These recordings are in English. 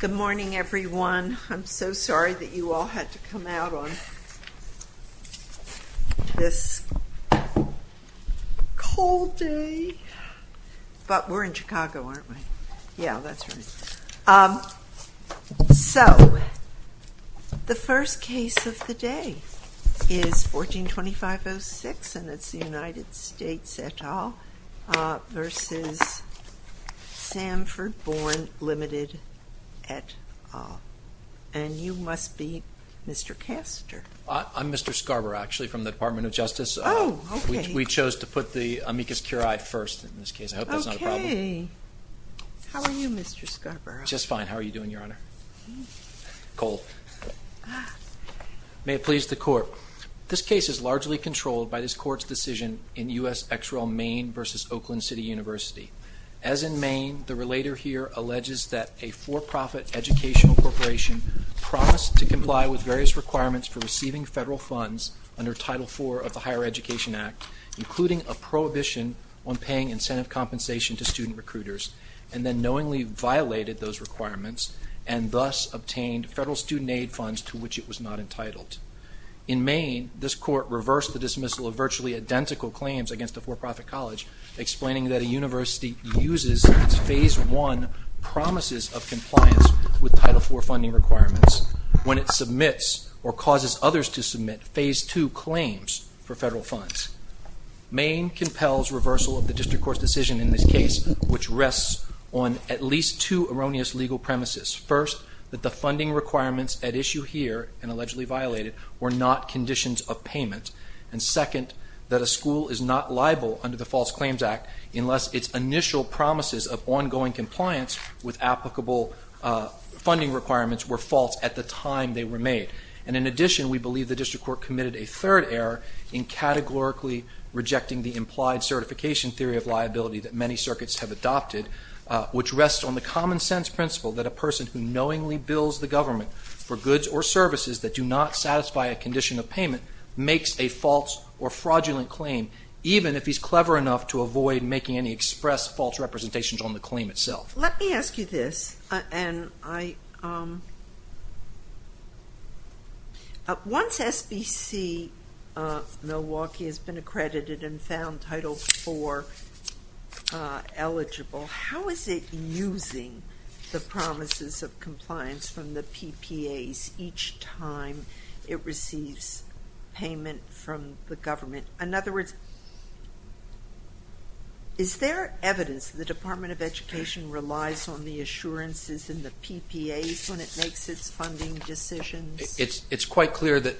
Good morning, everyone. I'm so sorry that you all had to come out on this cold day. But we're in Chicago, aren't we? Yeah, that's right. So the first case of the day is 14-2506, and it's the And you must be Mr. Castor. I'm Mr. Scarborough, actually, from the Department of Justice. We chose to put the amicus curiae first in this case, I hope that's not a problem. Okay. How are you, Mr. Scarborough? Just fine. How are you doing, Your Honor? Cold. May it please the Court. This case is largely controlled by this for-profit educational corporation promised to comply with various requirements for receiving federal funds under Title IV of the Higher Education Act, including a prohibition on paying incentive compensation to student recruiters, and then knowingly violated those requirements, and thus obtained federal student aid funds to which it was not entitled. In Maine, this court reversed the dismissal of virtually identical claims against the for-profit college, explaining that a When it submits or causes others to submit Phase II claims for federal funds. Maine compels reversal of the district court's decision in this case, which rests on at least two erroneous legal premises. First, that the funding requirements at issue here, and allegedly violated, were not conditions of payment. And second, that a school is not requirements were false at the time they were made. And in addition, we believe the district court committed a third error in categorically rejecting the implied certification theory of liability that many circuits have adopted, which rests on the common sense principle that a person who knowingly bills the government for goods or services that do not satisfy a condition of payment makes a false or fraudulent claim, even if he's clever enough to avoid making any express false representations on the claim itself. Let me ask you this. Once SBC-Milwaukee has been accredited and found Title IV eligible, how is it using the promises of compliance from the PPAs each time it receives payment from the government? In other words, is there evidence the Department of Education relies on the assurances in the PPAs when it makes its funding decisions? It's quite clear that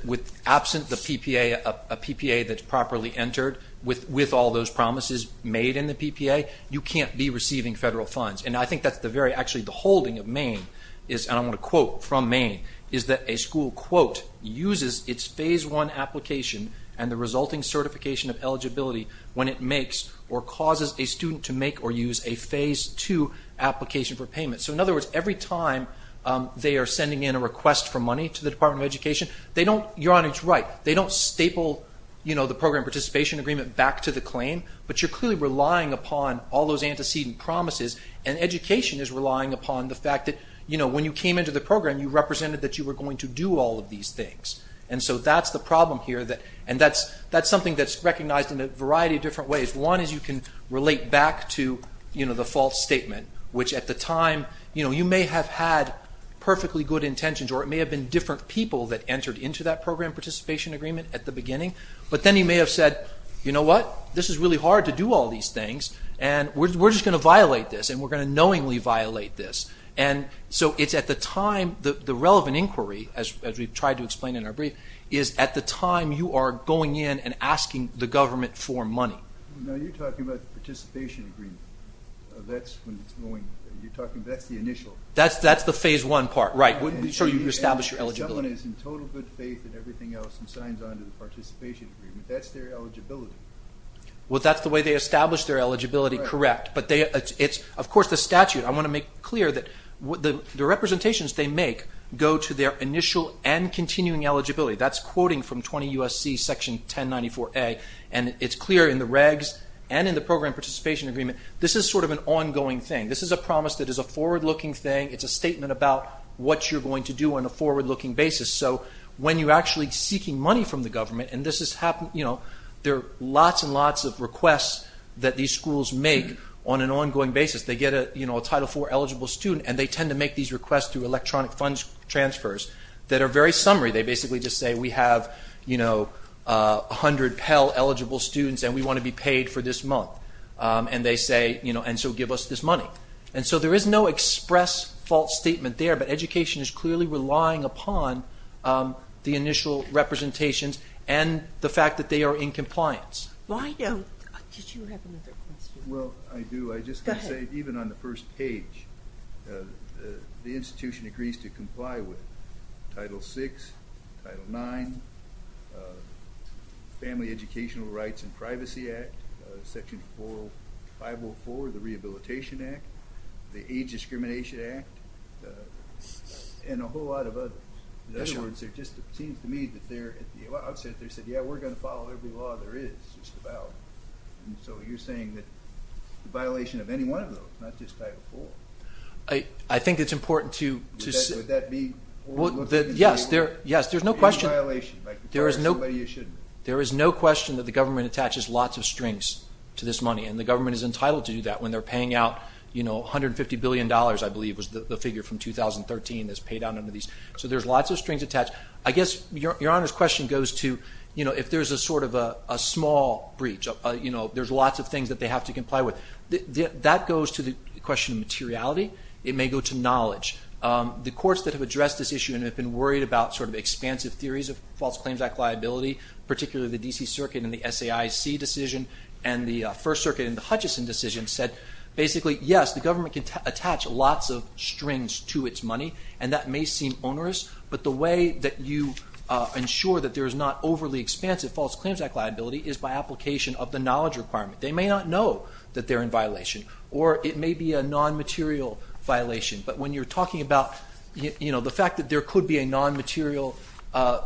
absent the PPA, a PPA that's properly entered, with all those promises made in the PPA, you can't be receiving federal funds. And I think that's the very, actually, the holding of Maine, and I'm going to quote from Maine, is that a school, quote, uses its Phase I application and the resulting certification of eligibility when it makes or causes a student to make or use a Phase II application for payment. So in other words, every time they are sending in a request for money to the Department of Education, you're on its right. They don't staple the program participation agreement back to the claim, but you're clearly relying upon all those antecedent promises, and education is relying upon the fact that, you know, when you came into the program, you represented that you were going to do all of these things. And so that's the problem here, and that's something that's recognized in a variety of different ways. One is you can relate back to, you know, the false statement, which at the time, you know, you may have had perfectly good intentions, or it may have been different people that entered into that program participation agreement at the beginning, but then you may have said, you know what, this is really hard to do all these things, and we're just going to violate this, and we're going to knowingly violate this. And so it's at the time, the relevant inquiry, as we've tried to explain in our brief, is at the time you are going in and asking the government for money. Now you're talking about participation agreement. That's when it's going, you're talking about the initial. That's the phase one part, right, when you establish your eligibility. When someone is in total good faith in everything else and signs on to the participation agreement, that's their eligibility. Well, that's the way they establish their eligibility, correct, but they, of course, the statute, I want to make clear that the representations they make go to their initial and continuing eligibility. That's quoting from 20 U.S.C. section 1094A, and it's clear in the regs and in the program participation agreement, this is sort of an ongoing thing. This is a promise that is a forward-looking thing. It's a statement about what you're going to do on a forward-looking basis. So when you're actually seeking money from the government, and this has happened, you know, there are lots and lots of requests that these schools make on an ongoing basis. They get a, you know, a Title IV-eligible student, and they tend to make these requests through electronic funds transfers that are very summary. They basically just say, we have, you know, 100 Pell-eligible students, and we want to be paid for this month. And they say, you know, and so give us this money. And so there is no express fault statement there, but education is clearly relying upon the initial representations and the fact that they are in compliance. Why don't you have another question? Well, I do. I just want to say, even on the first page, the institution agrees to comply with Title VI, Title IX, Family Educational Rights and Privacy Act, Section 504, the Rehabilitation Act, the Age Discrimination Act, and a whole lot of others. In other words, it just seems to me that they're, at the outset, they said, yeah, we're going to follow every law there is, just about. And so you're saying that violation of any one of those, not just Title IV. I think it's important to... Would that be... Yes, there's no question. There is no question that the government attaches lots of strings to this money, and the government is entitled to do that when they're paying out, you know, $150 billion, I believe, was the figure from 2013 that's paid out under these. So there's lots of strings attached. I guess Your Honor's question goes to, you know, if there's a sort of a small breach, you know, there's lots of things that they have to comply with. That goes to the question of materiality. It may go to knowledge. The courts that have addressed this issue and have been worried about sort of expansive theories of False Claims Act liability, particularly the D.C. Circuit and the SAIC decision, and the First Circuit and the Hutchison decision said, basically, yes, the government can attach lots of strings to its money, and that may seem onerous. But the way that you ensure that there is not overly expansive False Claims Act liability is by application of the knowledge requirement. They may not know that they're in violation, or it may be a nonmaterial violation. But when you're talking about, you know, the fact that there could be a nonmaterial,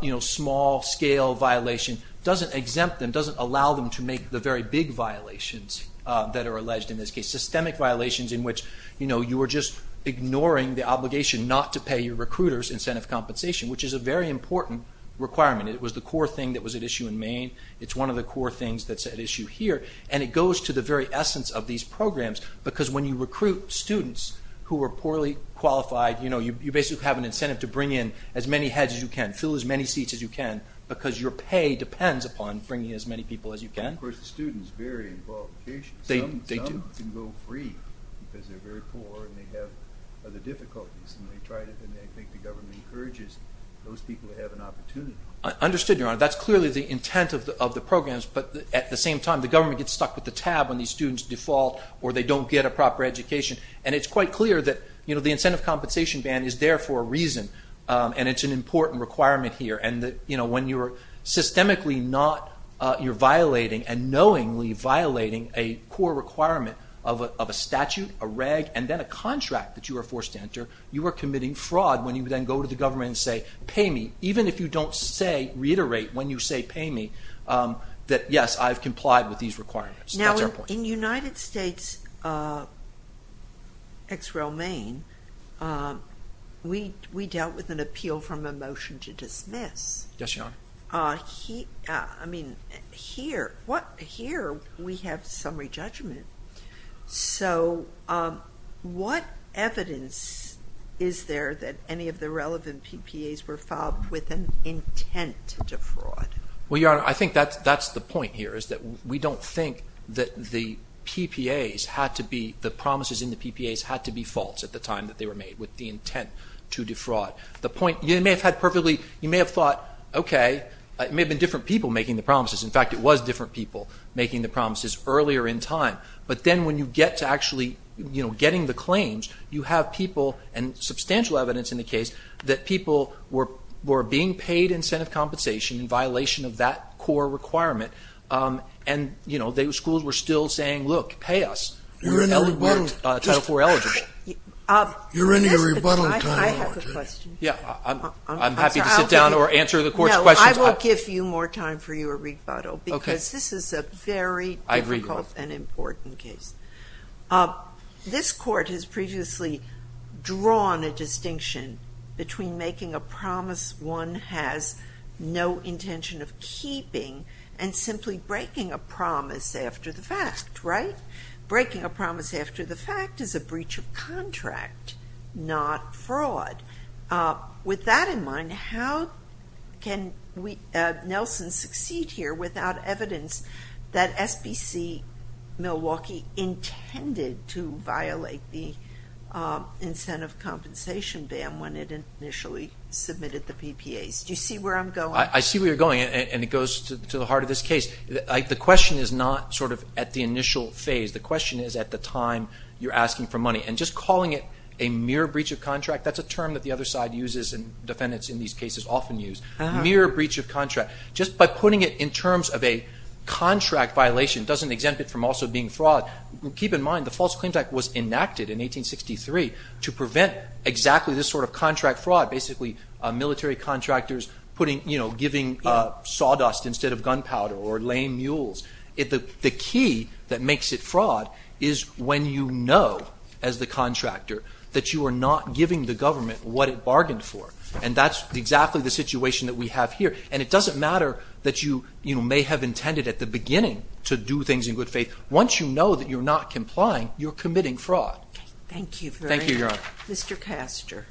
you know, small-scale violation doesn't exempt them, doesn't allow them to make the very big violations that are alleged in this case, systemic violations in which, you know, you are just ignoring the obligation not to pay your recruiters incentive compensation, which is a very important requirement. It was the core thing that was at issue in Maine. It's one of the core things that's at issue here. And it goes to the very essence of these programs, because when you recruit students who are poorly qualified, you know, you basically have an incentive to bring in as many heads as you can, fill as many seats as you can, because your pay depends upon bringing as many people as you can. Of course, the students vary in qualifications. They do. Some can go free because they're very poor and they have other difficulties. When they try this, and they think the government encourages those people to have an opportunity. Understood, Your Honor. That's clearly the intent of the programs. But at the same time, the government gets stuck with the tab when these students default or they don't get a proper education. And it's quite clear that, you know, the incentive compensation ban is there for a reason. And it's an important requirement here. And, you know, when you're systemically not, you're violating and knowingly violating a core requirement of a statute, a reg, and then a contract that you are forced to enter, you are committing fraud when you then go to the government and say, pay me. Even if you don't say, reiterate when you say, pay me, that, yes, I've complied with these requirements. Now, in the United States, ex romaine, we dealt with an appeal from a motion to dismiss. Yes, Your Honor. I mean, here, we have summary judgment. So what evidence is there that any of the relevant PPAs were filed with an intent to defraud? Well, Your Honor, I think that's the point here is that we don't think that the PPAs had to be, the promises in the PPAs had to be false at the time that they were made with the intent to defraud. The point, you may have had perfectly, you may have thought, okay, it may have been different people making the promises. In fact, it was different people making the promises earlier in time. But then when you get to actually, you know, getting the claims, you have people and substantial evidence in the case that people were being paid incentive compensation in violation of that core requirement. And, you know, those schools were still saying, look, pay us. You're in a rebuttal. You're in a rebuttal. I have a question. I'm happy to sit down or answer the court's questions. No, I will give you more time for your rebuttal because this is a very difficult and important case. I agree with that. This court has previously drawn a distinction between making a promise one has no intention of keeping and simply breaking a promise after the fact, right? The fact is a breach of contract, not fraud. With that in mind, how can Nelson succeed here without evidence that FBC Milwaukee intended to violate the incentive compensation ban when it initially submitted the PPAs? Do you see where I'm going? I see where you're going, and it goes to the heart of this case. The question is not sort of at the initial phase. The question is at the time you're asking for money. And just calling it a mere breach of contract, that's a term that the other side uses and defendants in these cases often use. Mere breach of contract. Just by putting it in terms of a contract violation doesn't exempt it from also being fraud. Keep in mind, the False Clean Type was enacted in 1863 to prevent exactly this sort of contract fraud. Basically, military contractors putting, you know, giving sawdust instead of gunpowder or laying mules. The key that makes it fraud is when you know, as the contractor, that you are not giving the government what it bargained for. And that's exactly the situation that we have here. And it doesn't matter that you may have intended at the beginning to do things in good faith. Once you know that you're not complying, you're committing fraud. Thank you very much, Mr. Castor.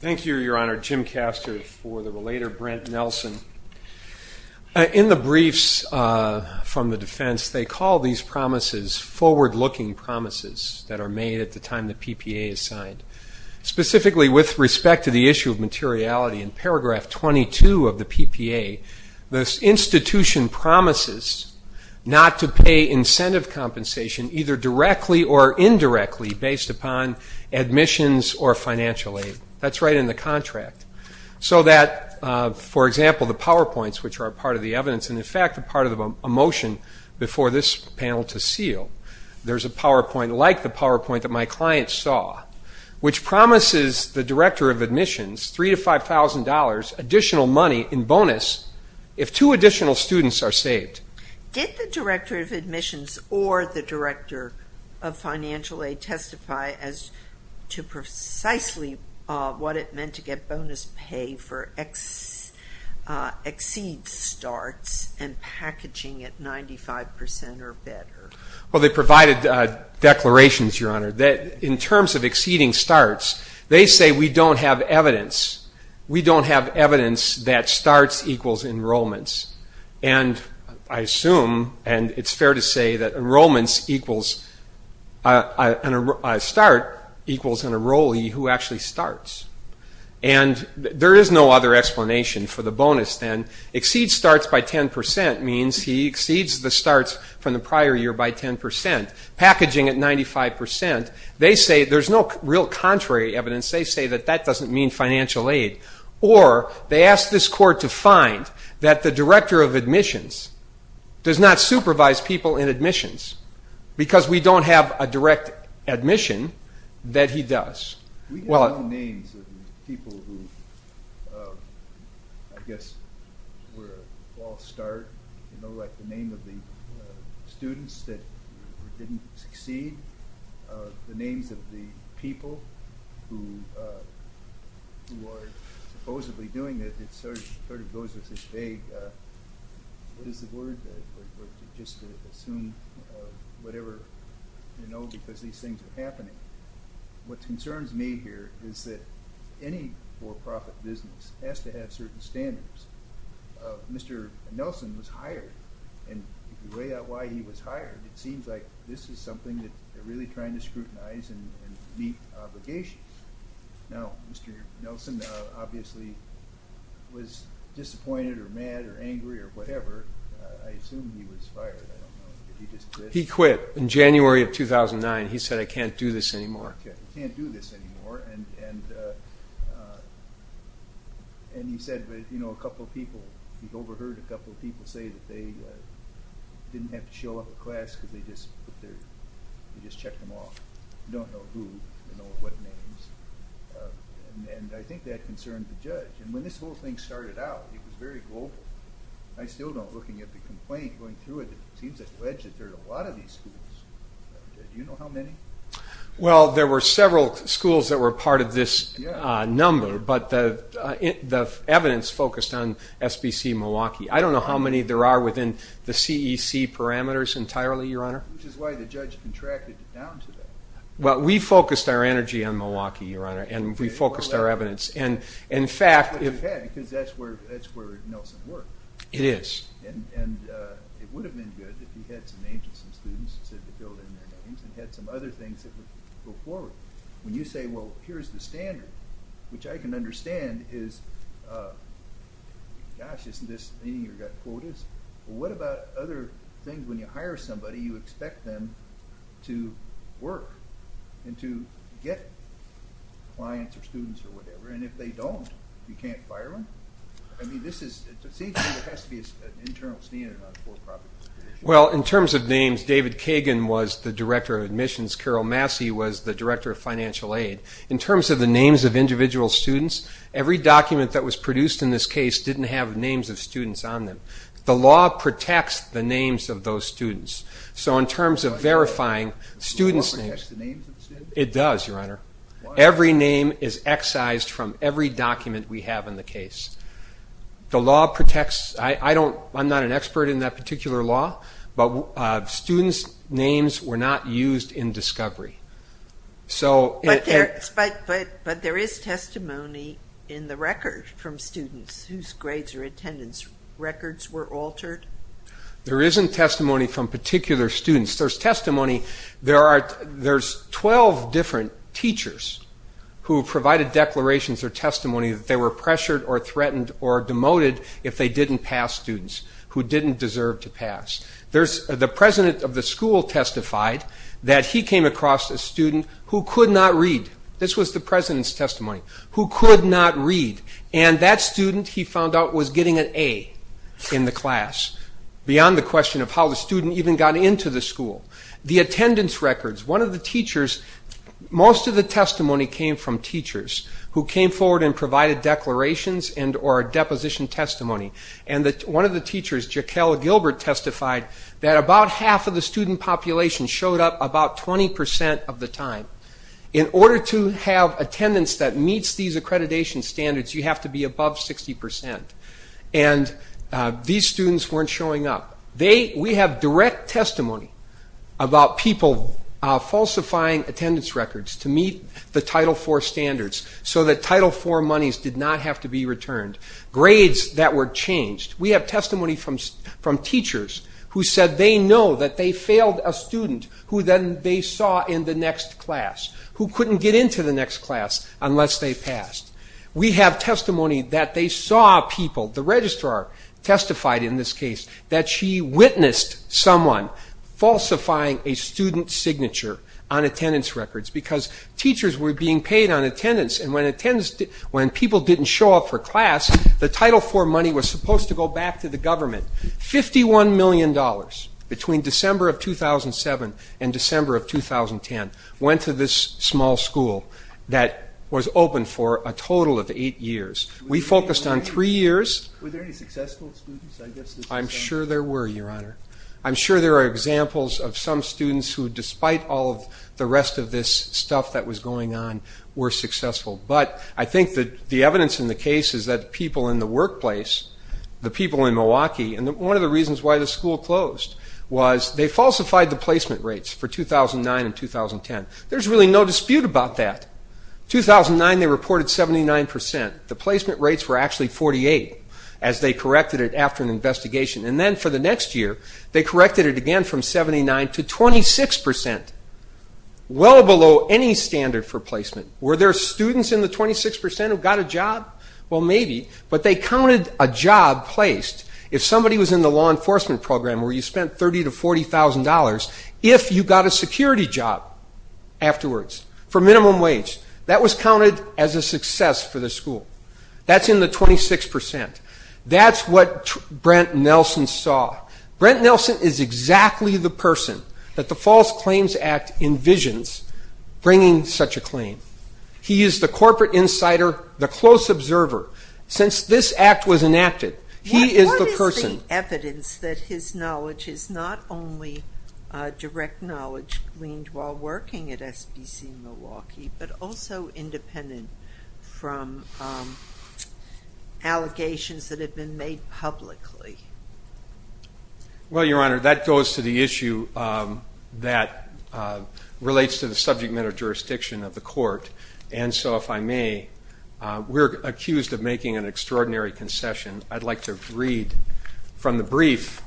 Thank you, Your Honor. Jim Castor for the later Brent Nelson. In the briefs from the defense, they call these promises forward-looking promises that are made at the time the PPA is signed. Specifically, with respect to the issue of materiality, in paragraph 22 of the PPA, the institution promises not to pay incentive compensation either directly or indirectly based upon admissions or financial aid. That's right in the contract. So that, for example, the PowerPoints, which are a part of the evidence and, in fact, a part of a motion before this panel to seal, there's a PowerPoint like the PowerPoint that my client saw, which promises the director of admissions $3,000 to $5,000 additional money in bonus if two additional students are saved. Did the director of admissions or the director of financial aid testify as to precisely what it meant to get bonus pay for exceed starts and packaging at 95% or better? Well, they provided declarations, Your Honor, that in terms of exceeding starts, they say we don't have evidence. We don't have evidence that starts equals enrollments. And I assume, and it's fair to say, that enrollments equals a start equals an enrollee who actually starts. And there is no other explanation for the bonus then. Exceed starts by 10% means he exceeds the starts from the prior year by 10%. Packaging at 95%, they say there's no real contrary evidence. They say that that doesn't mean financial aid. Or they ask this court to find that the director of admissions does not supervise people in admissions because we don't have a direct admission that he does. Can we get the names of the people who, I guess, were a false start? You know, like the name of the students that didn't succeed? The names of the people who are supposedly doing this? It sort of goes with this vague, what is the word? History or whatever, you know, because these things are happening. What concerns me here is that any for-profit business has to have certain standards. Mr. Nelson was hired. And the way out why he was hired, it seems like this is something that they're really trying to scrutinize and meet obligations. Now, Mr. Nelson obviously was disappointed or mad or angry or whatever. I assume he was fired. I don't know if he just quit. He quit in January of 2009. He said, I can't do this anymore. I can't do this anymore. And he said, you know, a couple of people, he overheard a couple of people say that they didn't have to show up to class because they just checked them off. You don't know who, you don't know what names. And I think that concerns the judge. And when this whole thing started out, it was very global. I still don't, looking at the complaint, going through it, it seems that there are a lot of these schools. Do you know how many? Well, there were several schools that were part of this number, but the evidence focused on SBC Milwaukee. I don't know how many there are within the CEC parameters entirely, Your Honor. Which is why the judge contracted it down to them. Well, we focused our energy on Milwaukee, Your Honor, and we focused our evidence. Because that's where Nelson worked. It is. And it would have been good if we had some agents and students to build in there. We had some other things that would go forward. When you say, well, here's the standard, which I can understand is, gosh, isn't this thing, you've got quotas. But what about other things when you hire somebody, you expect them to work and to get clients or students or whatever. And if they don't, you can't fire them? I mean, this is, it seems to me it has to be an internal stand on both parties. Well, in terms of names, David Kagan was the director of admissions. Carol Massey was the director of financial aid. In terms of the names of individual students, every document that was produced in this case didn't have names of students on them. The law protects the names of those students. So in terms of verifying students' names. The law protects the names of students? It does, Your Honor. Every name is excised from every document we have in the case. The law protects, I'm not an expert in that particular law, but students' names were not used in discovery. But there is testimony in the record from students whose grades or attendance records were altered? There isn't testimony from particular students. There's 12 different teachers who provided declarations or testimony that they were pressured or threatened or demoted if they didn't pass students who didn't deserve to pass. The president of the school testified that he came across a student who could not read. This was the president's testimony. Who could not read. And that student, he found out, was getting an A in the class. Beyond the question of how the student even got into the school. The attendance records. One of the teachers, most of the testimony came from teachers who came forward and provided declarations and or deposition testimony. And one of the teachers, Jaquel Gilbert, testified that about half of the student population showed up about 20% of the time. In order to have attendance that meets these accreditation standards, you have to be above 60%. And these students weren't showing up. We have direct testimony about people falsifying attendance records to meet the Title IV standards. So that Title IV monies did not have to be returned. Grades that were changed. We have testimony from teachers who said they know that they failed a student who then they saw in the next class. Who couldn't get into the next class unless they passed. We have testimony that they saw people, the registrar testified in this case, that she witnessed someone falsifying a student's signature on attendance records. Because teachers were being paid on attendance. And when people didn't show up for class, the Title IV money was supposed to go back to the government. $51 million between December of 2007 and December of 2010 went to this small school that was open for a total of eight years. We focused on three years. Were there any successful students? I'm sure there were, Your Honor. I'm sure there are examples of some students who, despite all of the rest of this stuff that was going on, were successful. But I think that the evidence in the case is that people in the workplace, the people in Milwaukee. And one of the reasons why the school closed was they falsified the placement rates for 2009 and 2010. There's really no dispute about that. 2009, they reported 79%. The placement rates were actually 48 as they corrected it after an investigation. And then for the next year, they corrected it again from 79 to 26%, well below any standard for placement. Were there students in the 26% who got a job? Well, maybe. But they counted a job placed, if somebody was in the law enforcement program where you spent $30,000 to $40,000, if you got a security job afterwards for minimum wage. That was counted as a success for the school. That's in the 26%. That's what Brent Nelson saw. Brent Nelson is exactly the person that the False Claims Act envisions bringing such a claim. He is the corporate insider, the close observer. Since this act was enacted, he is the person. evidence that his knowledge is not only direct knowledge gleaned while working at SBC Milwaukee, but also independent from allegations that have been made publicly. Well, Your Honor, that goes to the issue that relates to the subject matter jurisdiction of the court. And so if I may, we're accused of making an extraordinary concession. I'd like to read from the brief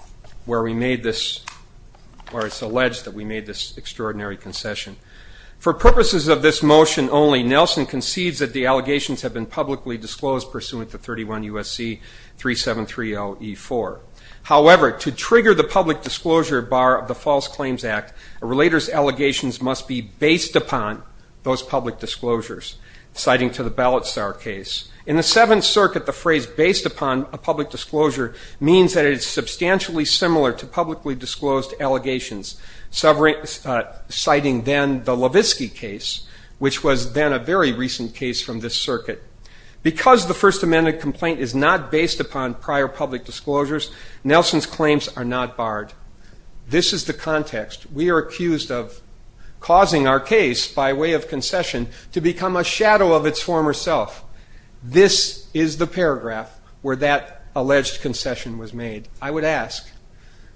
where it's alleged that we made this extraordinary concession. For purposes of this motion only, Nelson conceives that the allegations have been publicly disclosed pursuant to 31 U.S.C. 3730E4. However, to trigger the public disclosure bar of the False Claims Act, a relator's allegations must be based upon those public disclosures, citing to the Ballotsar case. In the Seventh Circuit, the phrase based upon a public disclosure means that it's substantially similar to publicly disclosed allegations, citing then the Levitsky case, which was then a very recent case from this circuit. Because the First Amendment complaint is not based upon prior public disclosures, Nelson's claims are not barred. This is the context. We are accused of causing our case by way of concession to become a shadow of its former self. This is the paragraph where that alleged concession was made. I would ask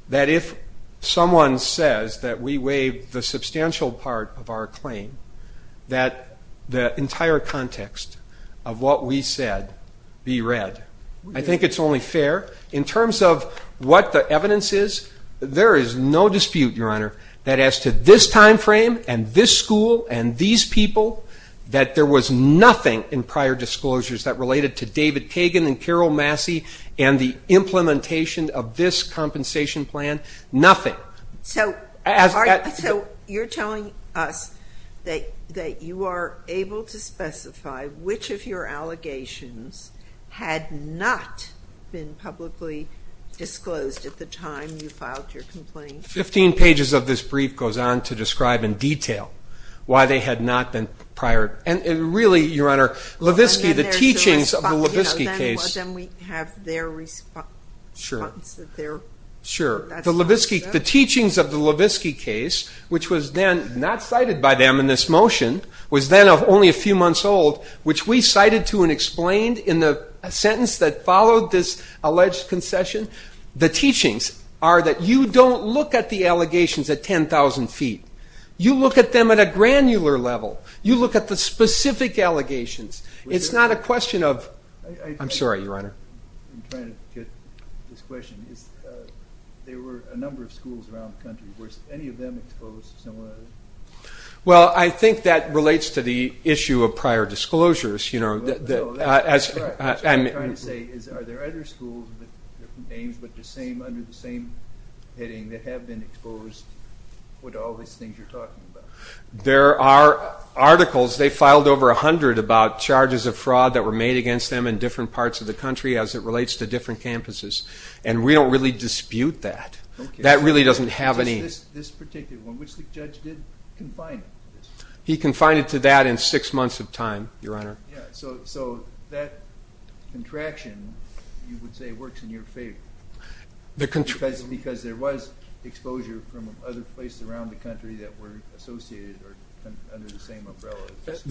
that if someone says that we waive the substantial part of our claim, that the entire context of what we said be read. I think it's only fair. In terms of what the evidence is, there is no dispute, Your Honor, that as to this time frame and this school and these people, that there was nothing in prior disclosures that related to David Kagan and Carol Massey and the implementation of this compensation plan. Nothing. So you're telling us that you are able to specify which of your allegations had not been publicly disclosed at the time you filed your complaint? Fifteen pages of this brief goes on to describe in detail why they had not been prior. Your Honor, the teachings of the Levitsky case, which was then not cited by them in this motion, was then of only a few months old, which we cited to and explained in the sentence that followed this alleged concession. The teachings are that you don't look at the allegations at 10,000 feet. You look at them at a granular level. You look at the specific allegations. It's not a question of... I'm sorry, Your Honor. Well, I think that relates to the issue of prior disclosures. I'm sorry. What I'm trying to say is, are there other schools that have been named under the same heading that have been exposed with all these things you're talking about? There are articles. They filed over 100 about charges of fraud that were made against them in different parts of the country as it relates to different campuses. And we don't really dispute that. That really doesn't have any... This particular one, which the judge did confine. He confined it to that in six months of time, Your Honor. The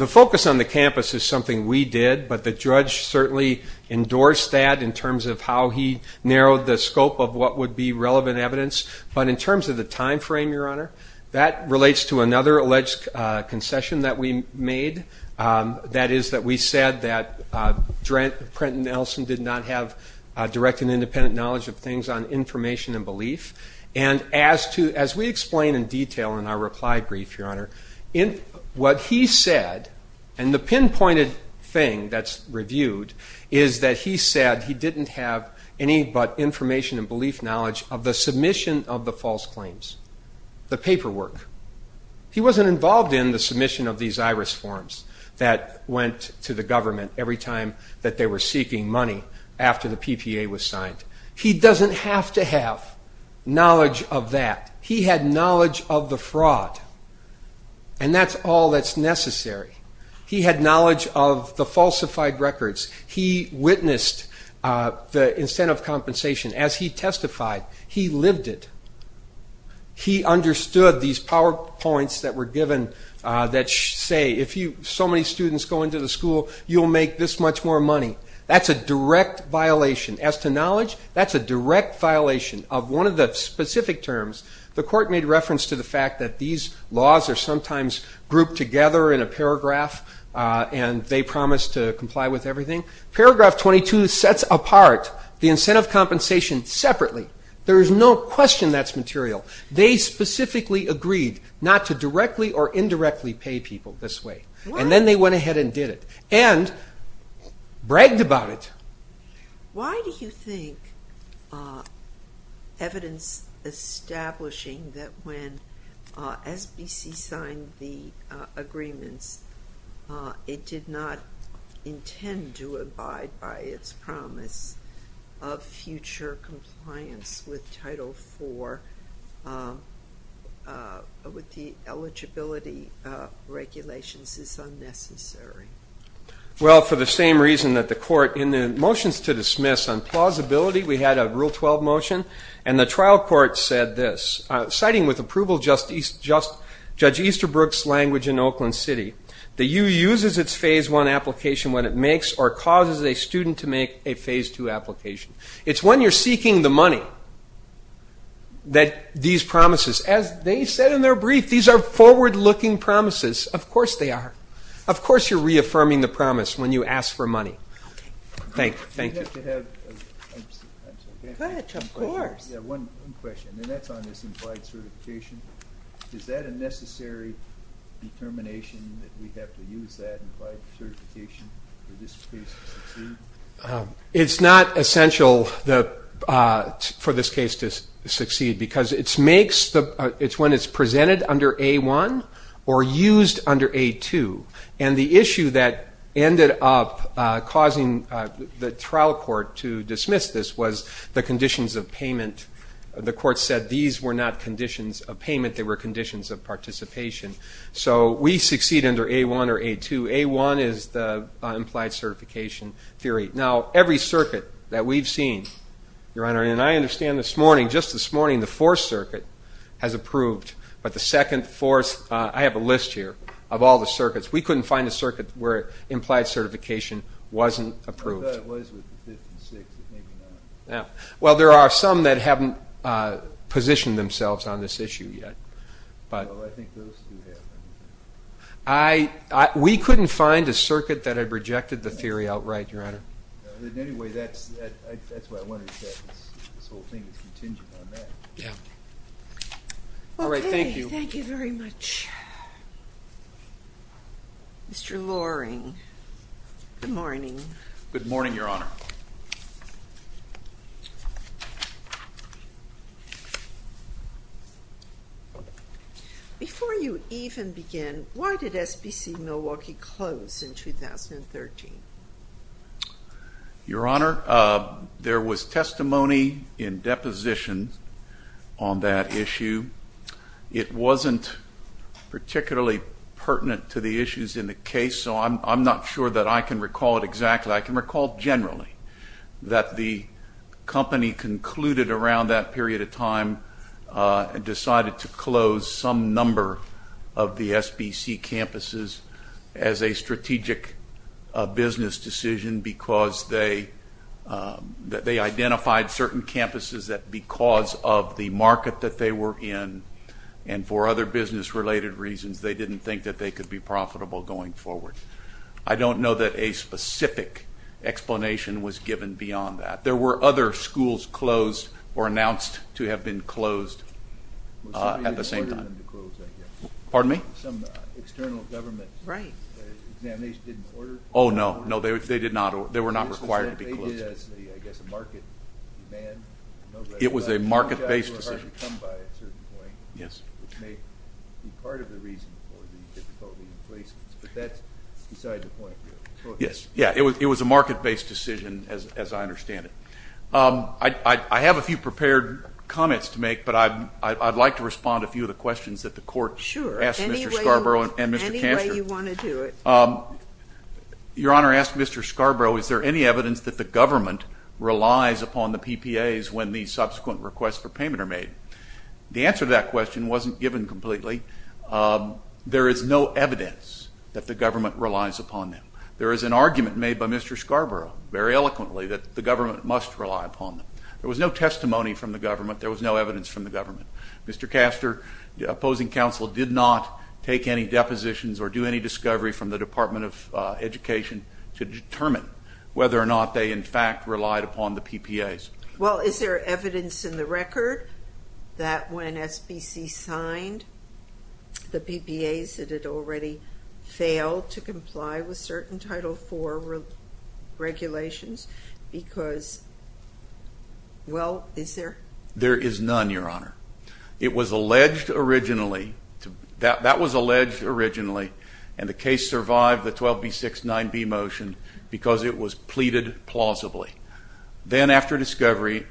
focus on the campus is something we did, but the judge certainly endorsed that in terms of how he narrowed the scope of what would be relevant evidence. But in terms of the timeframe, Your Honor, that relates to another alleged concession that we made. That is that we said that Prenton Nelson did not have direct and independent knowledge of things on information and belief. And as we explain in detail in our reply brief, Your Honor, what he said, and the pinpointed thing that's reviewed, is that he said he didn't have any but information and belief knowledge of the submission of the false claims. The paperwork. He wasn't involved in the submission of these IRIS forms that went to the government every time that they were seeking money after the PPA was signed. He doesn't have to have knowledge of that. He had knowledge of the fraud. And that's all that's necessary. He had knowledge of the falsified records. He witnessed the incentive compensation as he testified. He lived it. He understood these PowerPoints that were given that say if so many students go into the school, you'll make this much more money. That's a direct violation. As to knowledge, that's a direct violation of one of the specific terms. The court made reference to the fact that these laws are sometimes grouped together in a paragraph and they promise to comply with everything. Paragraph 22 sets apart the incentive compensation separately. There is no question that's material. They specifically agreed not to directly or indirectly pay people this way. And then they went ahead and did it. And bragged about it. Why do you think evidence establishing that when SBC signed the agreement, it did not intend to abide by its promise of future compliance with Title IV with the eligibility regulations is unnecessary? Well, for the same reason that the court in the motions to dismiss on plausibility, we had a Rule 12 motion. And the trial court said this, citing with approval Judge Easterbrook's language in Oakland City, the U uses its Phase I application when it makes or causes a student to make a Phase II application. It's when you're seeking the money that these promises, as they said in their brief, these are forward-looking promises. Of course they are. Of course you're reaffirming the promise when you ask for money. Thank you. I have one question. That's on this implied certification. Is that a necessary determination that we have to use that implied certification in this case? It's not essential for this case to succeed. Because it's when it's presented under A-1 or used under A-2. And the issue that ended up causing the trial court to dismiss this was the conditions of payment. The court said these were not conditions of payment. They were conditions of participation. So we succeed under A-1 or A-2. A-1 is the implied certification theory. Now, every circuit that we've seen, Your Honor, and I understand this morning, just this morning, the Fourth Circuit has approved. But the second, fourth, I have a list here of all the circuits. We couldn't find a circuit where implied certification wasn't approved. I thought it was. Well, there are some that haven't positioned themselves on this issue yet. I think those two have. We couldn't find a circuit that had rejected the theory outright, Your Honor. Anyway, that's what I wanted to say. So we'll continue on that. Yeah. All right. Thank you. Thank you very much. Mr. Loring, good morning. Good morning, Your Honor. Before you even begin, why did FPC Milwaukee close in 2013? Your Honor, there was testimony in deposition on that issue. It wasn't particularly pertinent to the issues in the case, so I'm not sure that I can recall it exactly. But I can recall generally that the company concluded around that period of time and decided to close some number of the SBC campuses as a strategic business decision because they identified certain campuses that because of the market that they were in and for other business-related reasons, they didn't think that they could be profitable going forward. I don't know that a specific explanation was given beyond that. There were other schools closed or announced to have been closed at the same time. Pardon me? Right. Oh, no. No, they were not required to be closed. It was a market-based decision. Yes. Yes, it was a market-based decision, as I understand it. I have a few prepared comments to make, but I'd like to respond to a few of the questions that the Court asked Mr. Scarborough and Mr. Kanter. Sure, any way you want to do it. Your Honor, I asked Mr. Scarborough, is there any evidence that the government relies upon the PPAs when the subsequent requests for payment are made? The answer to that question wasn't given completely. There is no evidence that the government relies upon them. There is an argument made by Mr. Scarborough, very eloquently, that the government must rely upon them. There was no testimony from the government. There was no evidence from the government. Mr. Kaster, the opposing counsel did not take any depositions or do any discovery from the Department of Education to determine whether or not they, in fact, relied upon the PPAs. Well, is there evidence in the record that when SBC signed the PPAs, that it already failed to comply with certain Title IV regulations? Because, well, is there? There is none, Your Honor. It was alleged originally, that was alleged originally, and the case survived the 12B6 9B motion because it was pleaded plausibly. Then after discovery,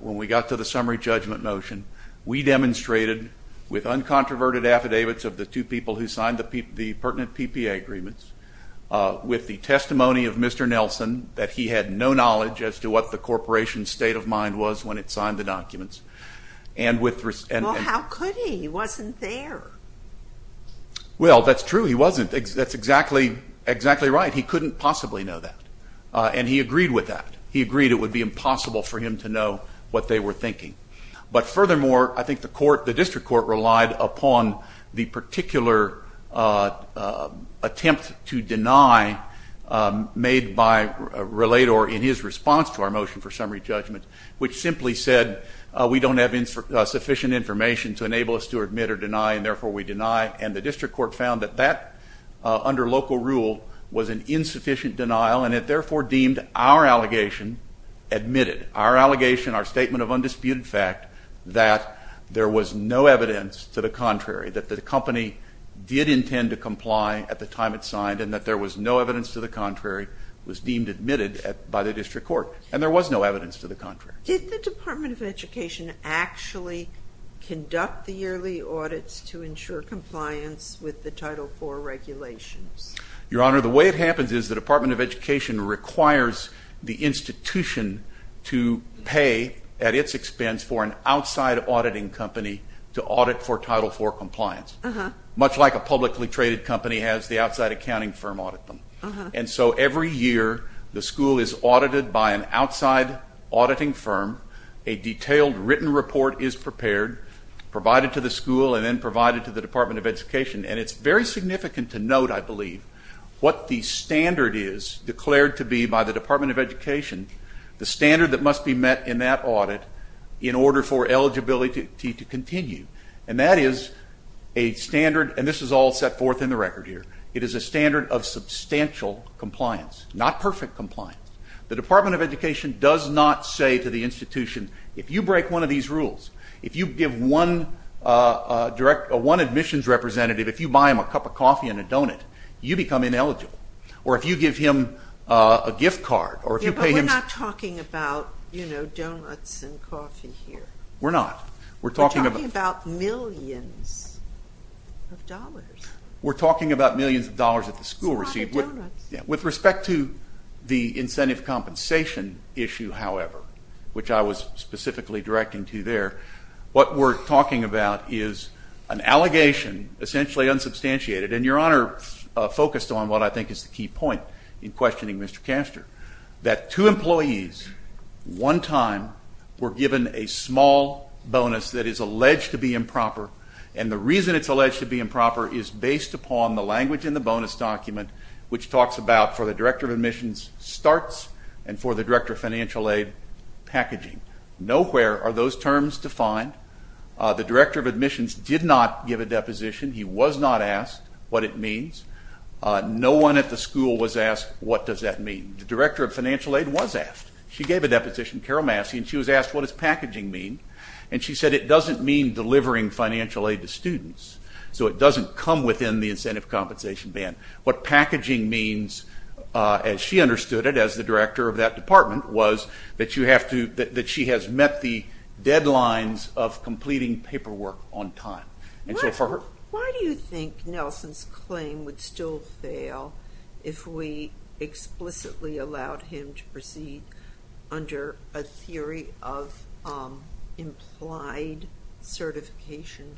when we got to the summary judgment motion, we demonstrated with uncontroverted affidavits of the two people who signed the pertinent PPA agreements, with the testimony of Mr. Nelson, that he had no knowledge as to what the corporation's state of mind was when it signed the documents. Well, how could he? He wasn't there. Well, that's true. He wasn't. That's exactly right. He couldn't possibly know that, and he agreed with that. He agreed it would be impossible for him to know what they were thinking. But furthermore, I think the court, the district court relied upon the particular attempt to deny made by Relator in his response to our motion for summary judgment, which simply said we don't have sufficient information to enable us to admit or deny, and therefore we deny. And the district court found that that, under local rule, was an insufficient denial, and it therefore deemed our allegation admitted. Our allegation, our statement of undisputed fact, that there was no evidence to the contrary, that the company did intend to comply at the time it signed, and that there was no evidence to the contrary was deemed admitted by the district court. And there was no evidence to the contrary. Did the Department of Education actually conduct the yearly audits to ensure compliance with the Title IV regulations? Your Honor, the way it happens is the Department of Education requires the institution to pay, at its expense, for an outside auditing company to audit for Title IV compliance, much like a publicly traded company has the outside accounting firm audit them. And so every year the school is audited by an outside auditing firm, a detailed written report is prepared, provided to the school, and then provided to the Department of Education. And it's very significant to note, I believe, what the standard is declared to be by the Department of Education, the standard that must be met in that audit in order for eligibility to continue. And that is a standard, and this is all set forth in the record here, it is a standard of substantial compliance, not perfect compliance. The Department of Education does not say to the institution, if you break one of these rules, if you give one admissions representative, if you buy him a cup of coffee and a donut, you become ineligible. Or if you give him a gift card, or if you pay him... But we're not talking about, you know, donuts and coffee here. We're not. We're talking about millions of dollars. We're talking about millions of dollars that the school received. With respect to the incentive compensation issue, however, which I was specifically directing to there, what we're talking about is an allegation, essentially unsubstantiated, and Your Honor focused on what I think is the key point in questioning Mr. Kastor, that two employees, one time, were given a small bonus that is alleged to be improper, and the reason it's alleged to be improper is based upon the language in the bonus document, which talks about, for the Director of Admissions, starts, and for the Director of Financial Aid, packaging. Nowhere are those terms defined. The Director of Admissions did not give a deposition. He was not asked what it means. No one at the school was asked, what does that mean? The Director of Financial Aid was asked. She gave a deposition, Carol Massey, and she was asked, what does packaging mean? And she said, it doesn't mean delivering financial aid to students, so it doesn't come within the incentive compensation ban. What packaging means, as she understood it, as the Director of that department, was that she has met the deadlines of completing paperwork on time. Why do you think Nelson's claim would still fail if we explicitly allowed him to proceed under a theory of implied certification?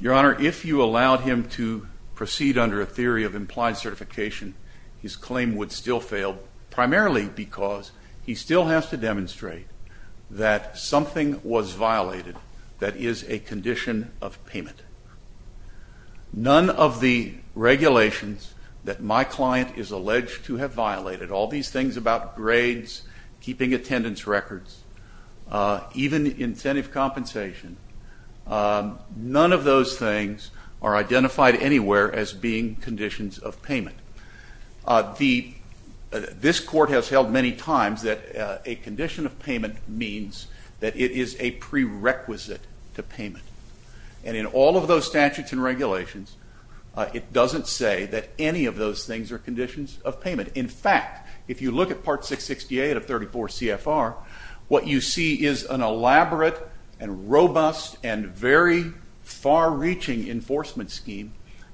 Your Honor, if you allowed him to proceed under a theory of implied certification, his claim would still fail, primarily because he still has to demonstrate that something was violated that is a condition of payment. None of the regulations that my client is alleged to have violated, all these things about grades, keeping attendance records, even incentive compensation, none of those things are identified anywhere as being conditions of payment. This Court has held many times that a condition of payment means that it is a prerequisite to payment. And in all of those statutes and regulations, it doesn't say that any of those things are conditions of payment. In fact, if you look at Part 668 of 34 CFR, what you see is an elaborate and robust and very far-reaching enforcement scheme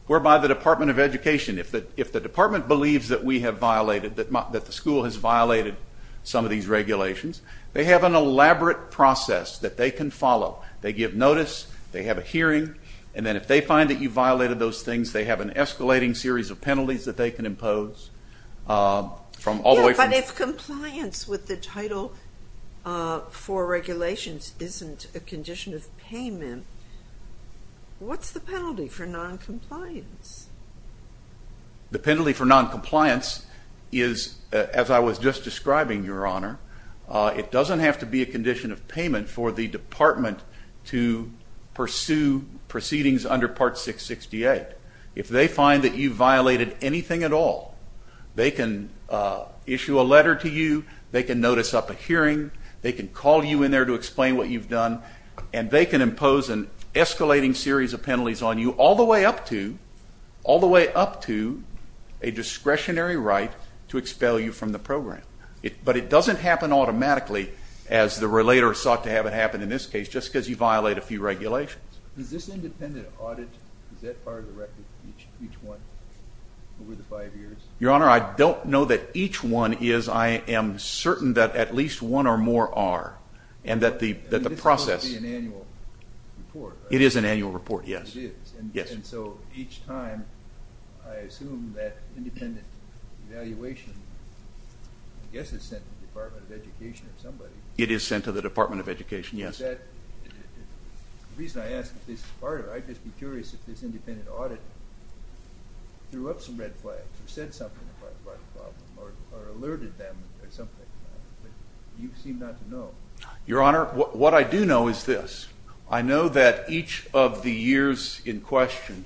whereby the Department of Education, if the department believes that we have violated, that the school has violated some of these regulations, they have an elaborate process that they can follow. They give notice. They have a hearing. And then if they find that you've violated those things, they have an escalating series of penalties that they can impose. What's the penalty for noncompliance? The penalty for noncompliance is, as I was just describing, Your Honor, it doesn't have to be a condition of payment for the department to pursue proceedings under Part 668. If they find that you violated anything at all, they can issue a letter to you. They can notice up a hearing. They can call you in there to explain what you've done. And they can impose an escalating series of penalties on you all the way up to a discretionary right to expel you from the program. But it doesn't happen automatically, as the relator sought to have it happen in this case, just because you violate a few regulations. Your Honor, I don't know that each one is. I am certain that at least one or more are, and that the process... This is supposed to be an annual report. It is an annual report, yes. It is. And so each time I assume that independent evaluation, I guess it's sent to the Department of Education or somebody. It is sent to the Department of Education, yes. The reason I ask is part of it. I'd just be curious if this independent audit threw up some red flags, said something about a problem or alerted them or something. You seem not to know. Your Honor, what I do know is this. I know that each of the years in question,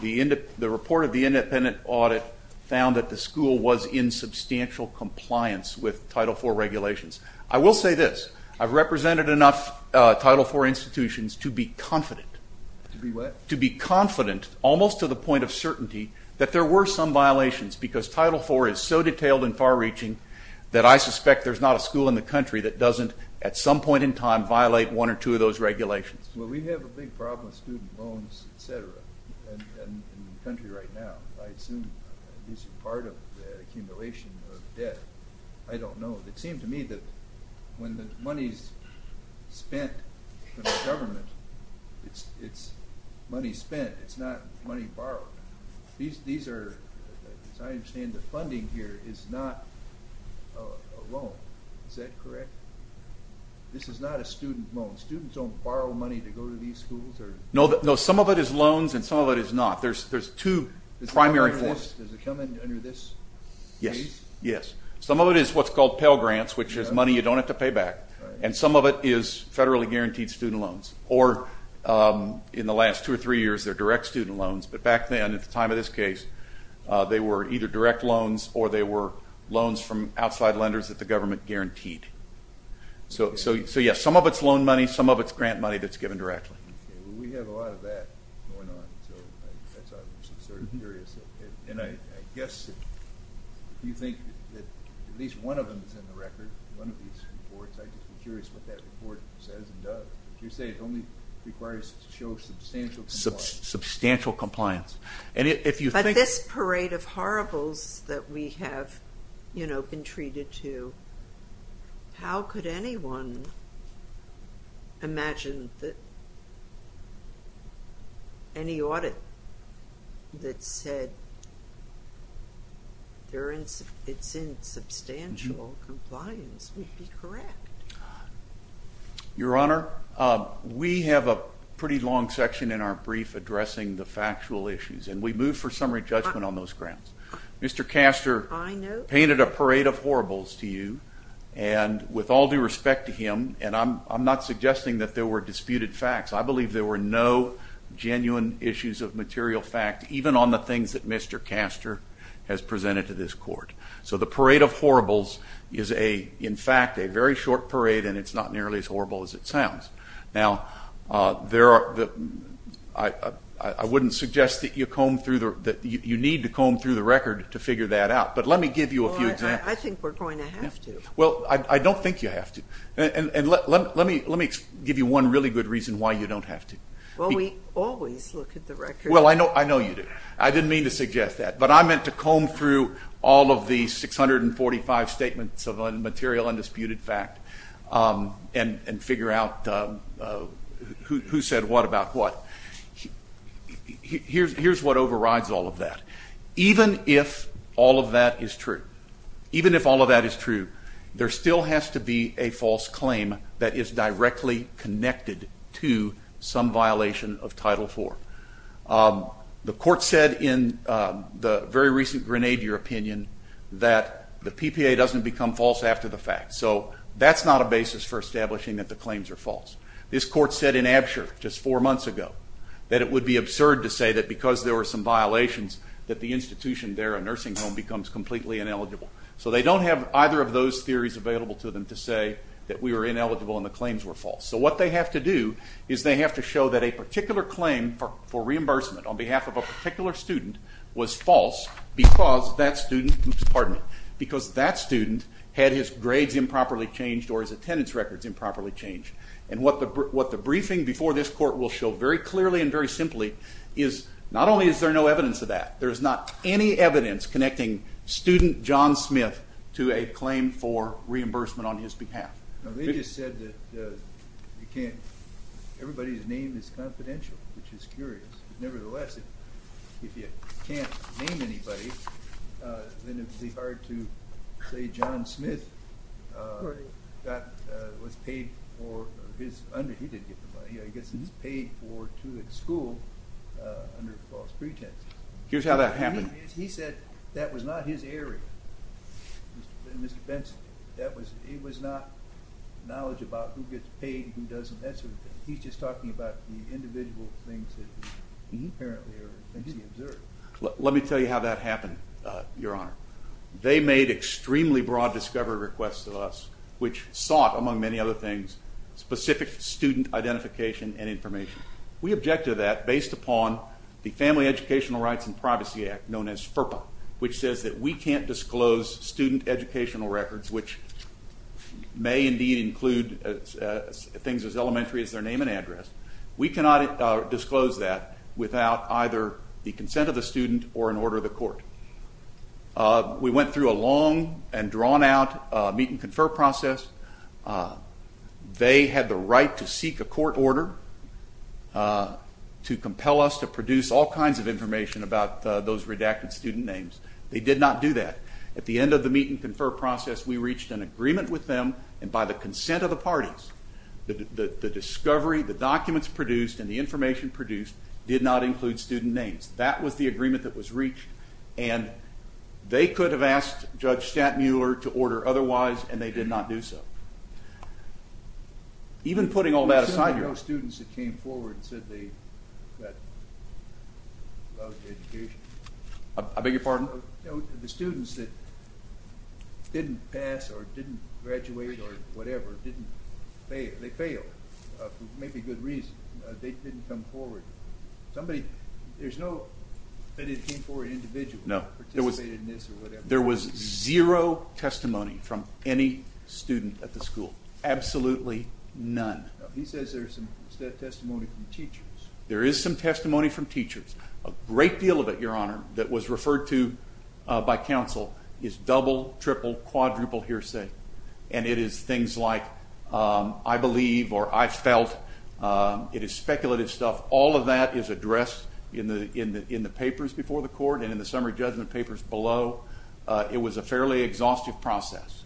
the report of the independent audit found that the school was in substantial compliance with Title IV regulations. I will say this. I've represented enough Title IV institutions to be confident. To be what? To be confident, almost to the point of certainty, that there were some violations, because Title IV is so detailed and far-reaching that I suspect there's not a school in the country that doesn't, at some point in time, violate one or two of those regulations. Well, we have a big problem with student loans, et cetera, in the country right now. I assume this is part of the accumulation of debt. I don't know. It seems to me that when the money is spent for the government, it's money spent. It's not money borrowed. I understand the funding here is not a loan. Is that correct? This is not a student loan. Students don't borrow money to go to these schools? No, some of it is loans and some of it is not. There's two primary courses. Does it come under this? Yes. Some of it is what's called Pell Grants, which is money you don't have to pay back, and some of it is federally guaranteed student loans. Or in the last two or three years, they're direct student loans. But back then, at the time of this case, they were either direct loans or they were loans from outside lenders that the government guaranteed. So, yes, some of it's loan money, some of it's grant money that's given directly. We have a lot of that going on. So I thought it was sort of curious. And I guess you think that at least one of them is in the record, one of these reports. I'm curious what that report says and does. You say it only requires to show substantial compliance. But this parade of horribles that we have, you know, been treated to, how could anyone imagine that any audit that said it's in substantial compliance would be correct? Your Honor, we have a pretty long section in our brief addressing the factual issues, and we move for summary judgment on those grounds. Mr. Castor painted a parade of horribles to you, and with all due respect to him, and I'm not suggesting that there were disputed facts. I believe there were no genuine issues of material fact, even on the things that Mr. Castor has presented to this Court. So the parade of horribles is, in fact, a very short parade, and it's not nearly as horrible as it sounds. Now, I wouldn't suggest that you need to comb through the record to figure that out, but let me give you a few examples. Well, I think we're going to have to. Well, I don't think you have to. And let me give you one really good reason why you don't have to. Well, we always look at the record. Well, I know you do. I didn't mean to suggest that, but I meant to comb through all of the 645 statements of material undisputed fact and figure out who said what about what. Here's what overrides all of that. Even if all of that is true, even if all of that is true, there still has to be a false claim that is directly connected to some violation of Title IV. The Court said in the very recent Grenadier opinion that the PPA doesn't become false after the fact. So that's not a basis for establishing that the claims are false. This Court said in Absher just four months ago that it would be absurd to say that because there were some violations that the institution there, a nursing home, becomes completely ineligible. So they don't have either of those theories available to them to say that we were ineligible and the claims were false. So what they have to do is they have to show that a particular claim for reimbursement on behalf of a particular student was false because that student had his grades improperly changed or his attendance records improperly changed. And what the briefing before this Court will show very clearly and very simply is not only is there no evidence of that, there's not any evidence connecting student John Smith to a claim for reimbursement on his behalf. Now they just said that you can't – everybody's name is confidential, which is curious. Nevertheless, if you can't name anybody, then it would be hard to say John Smith was paid for his – he didn't get paid. He gets paid for school under false pretense. Here's how that happened. He said that was not his area. Mr. Benson, it was not knowledge about who gets paid and who doesn't get paid. He's just talking about the individual things that he apparently observed. Let me tell you how that happened, Your Honor. They made extremely broad discovery requests to us, which sought, among many other things, specific student identification and information. We objected to that based upon the Family Educational Rights and Privacy Act, known as FERPA, which says that we can't disclose student educational records, which may indeed include things as elementary as their name and address. We cannot disclose that without either the consent of the student or an order of the court. We went through a long and drawn-out meet-and-confer process. They had the right to seek a court order to compel us to produce all kinds of information about those redacted student names. They did not do that. At the end of the meet-and-confer process, we reached an agreement with them, and by the consent of the parties, the discovery, the documents produced, and the information produced did not include student names. That was the agreement that was reached, and they could have asked Judge Stanton Mueller to order otherwise, and they did not do so. Even putting all that aside... There were students that came forward and said they loved education. I beg your pardon? The students that didn't pass or didn't graduate or whatever, they failed for maybe a good reason. They didn't come forward. There's nobody that came forward individually or participated in this or whatever. There was zero testimony from any student at the school, absolutely none. He says there's some testimony from teachers. There is some testimony from teachers. A great deal of it, Your Honor, that was referred to by counsel is double, triple, quadruple hearsay, and it is things like, I believe or I felt. It is speculative stuff. All of that is addressed in the papers before the court and in the summer judgment papers below. It was a fairly exhaustive process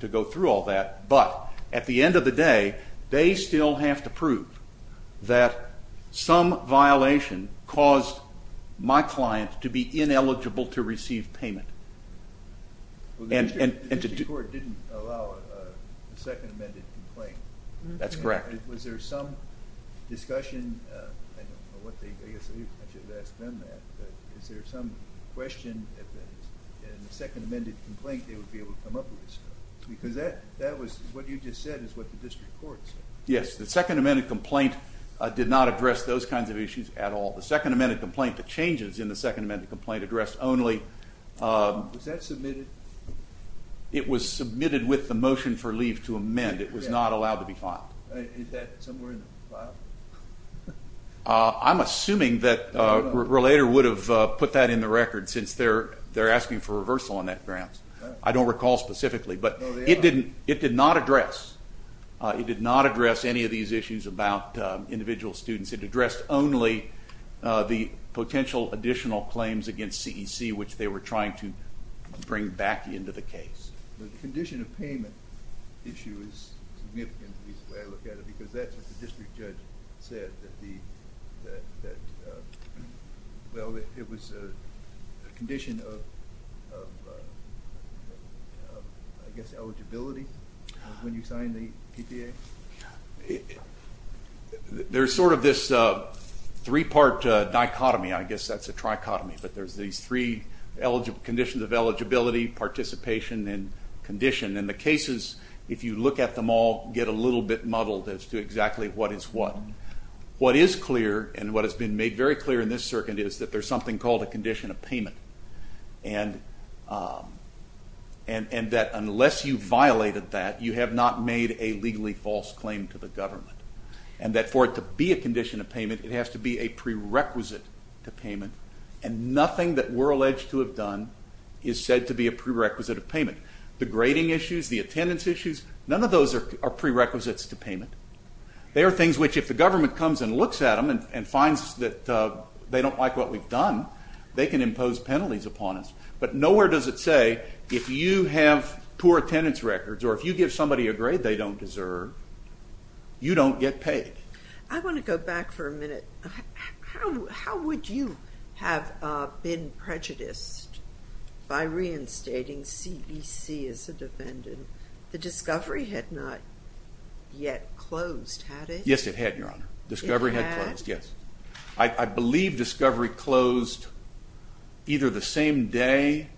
to go through all that, but at the end of the day, they still have to prove that some violation caused my client to be ineligible to receive payment. The district court didn't allow a second amended complaint. That's correct. Was there some discussion, I don't know what the agreement is, but is there some question that in the second amended complaint they would be able to come up with this stuff? Because what you just said is what the district court said. Yes. The second amended complaint did not address those kinds of issues at all. The second amended complaint, the changes in the second amended complaint, addressed only. Was that submitted? It was submitted with the motion for leave to amend. It was not allowed to be filed. Is that somewhere in the file? I'm assuming that Relator would have put that in the record since they're asking for reversal on that grant. I don't recall specifically, but it did not address. It did not address any of these issues about individual students. It addressed only the potential additional claims against CEC, which they were trying to bring back into the case. The condition of payment issue is significant, because that's what the district judge said. It was a condition of, I guess, eligibility when you signed the PTA? There's sort of this three-part dichotomy. I guess that's a trichotomy, but there's these three conditions of eligibility, participation, and condition. The cases, if you look at them all, get a little bit muddled as to exactly what is what. What is clear, and what has been made very clear in this circuit, is that there's something called a condition of payment, and that unless you violated that, you have not made a legally false claim to the government, and that for it to be a condition of payment, it has to be a prerequisite to payment, and nothing that we're alleged to have done is said to be a prerequisite of payment. The grading issues, the attendance issues, none of those are prerequisites to payment. They are things which if the government comes and looks at them and finds that they don't like what we've done, they can impose penalties upon us. But nowhere does it say, if you have poor attendance records or if you give somebody a grade they don't deserve, you don't get paid. I want to go back for a minute. How would you have been prejudiced by reinstating CBC as the defendant? The discovery had not yet closed, had it? Yes, it had, Your Honor. Discovery had closed, yes. I believe discovery closed either the same day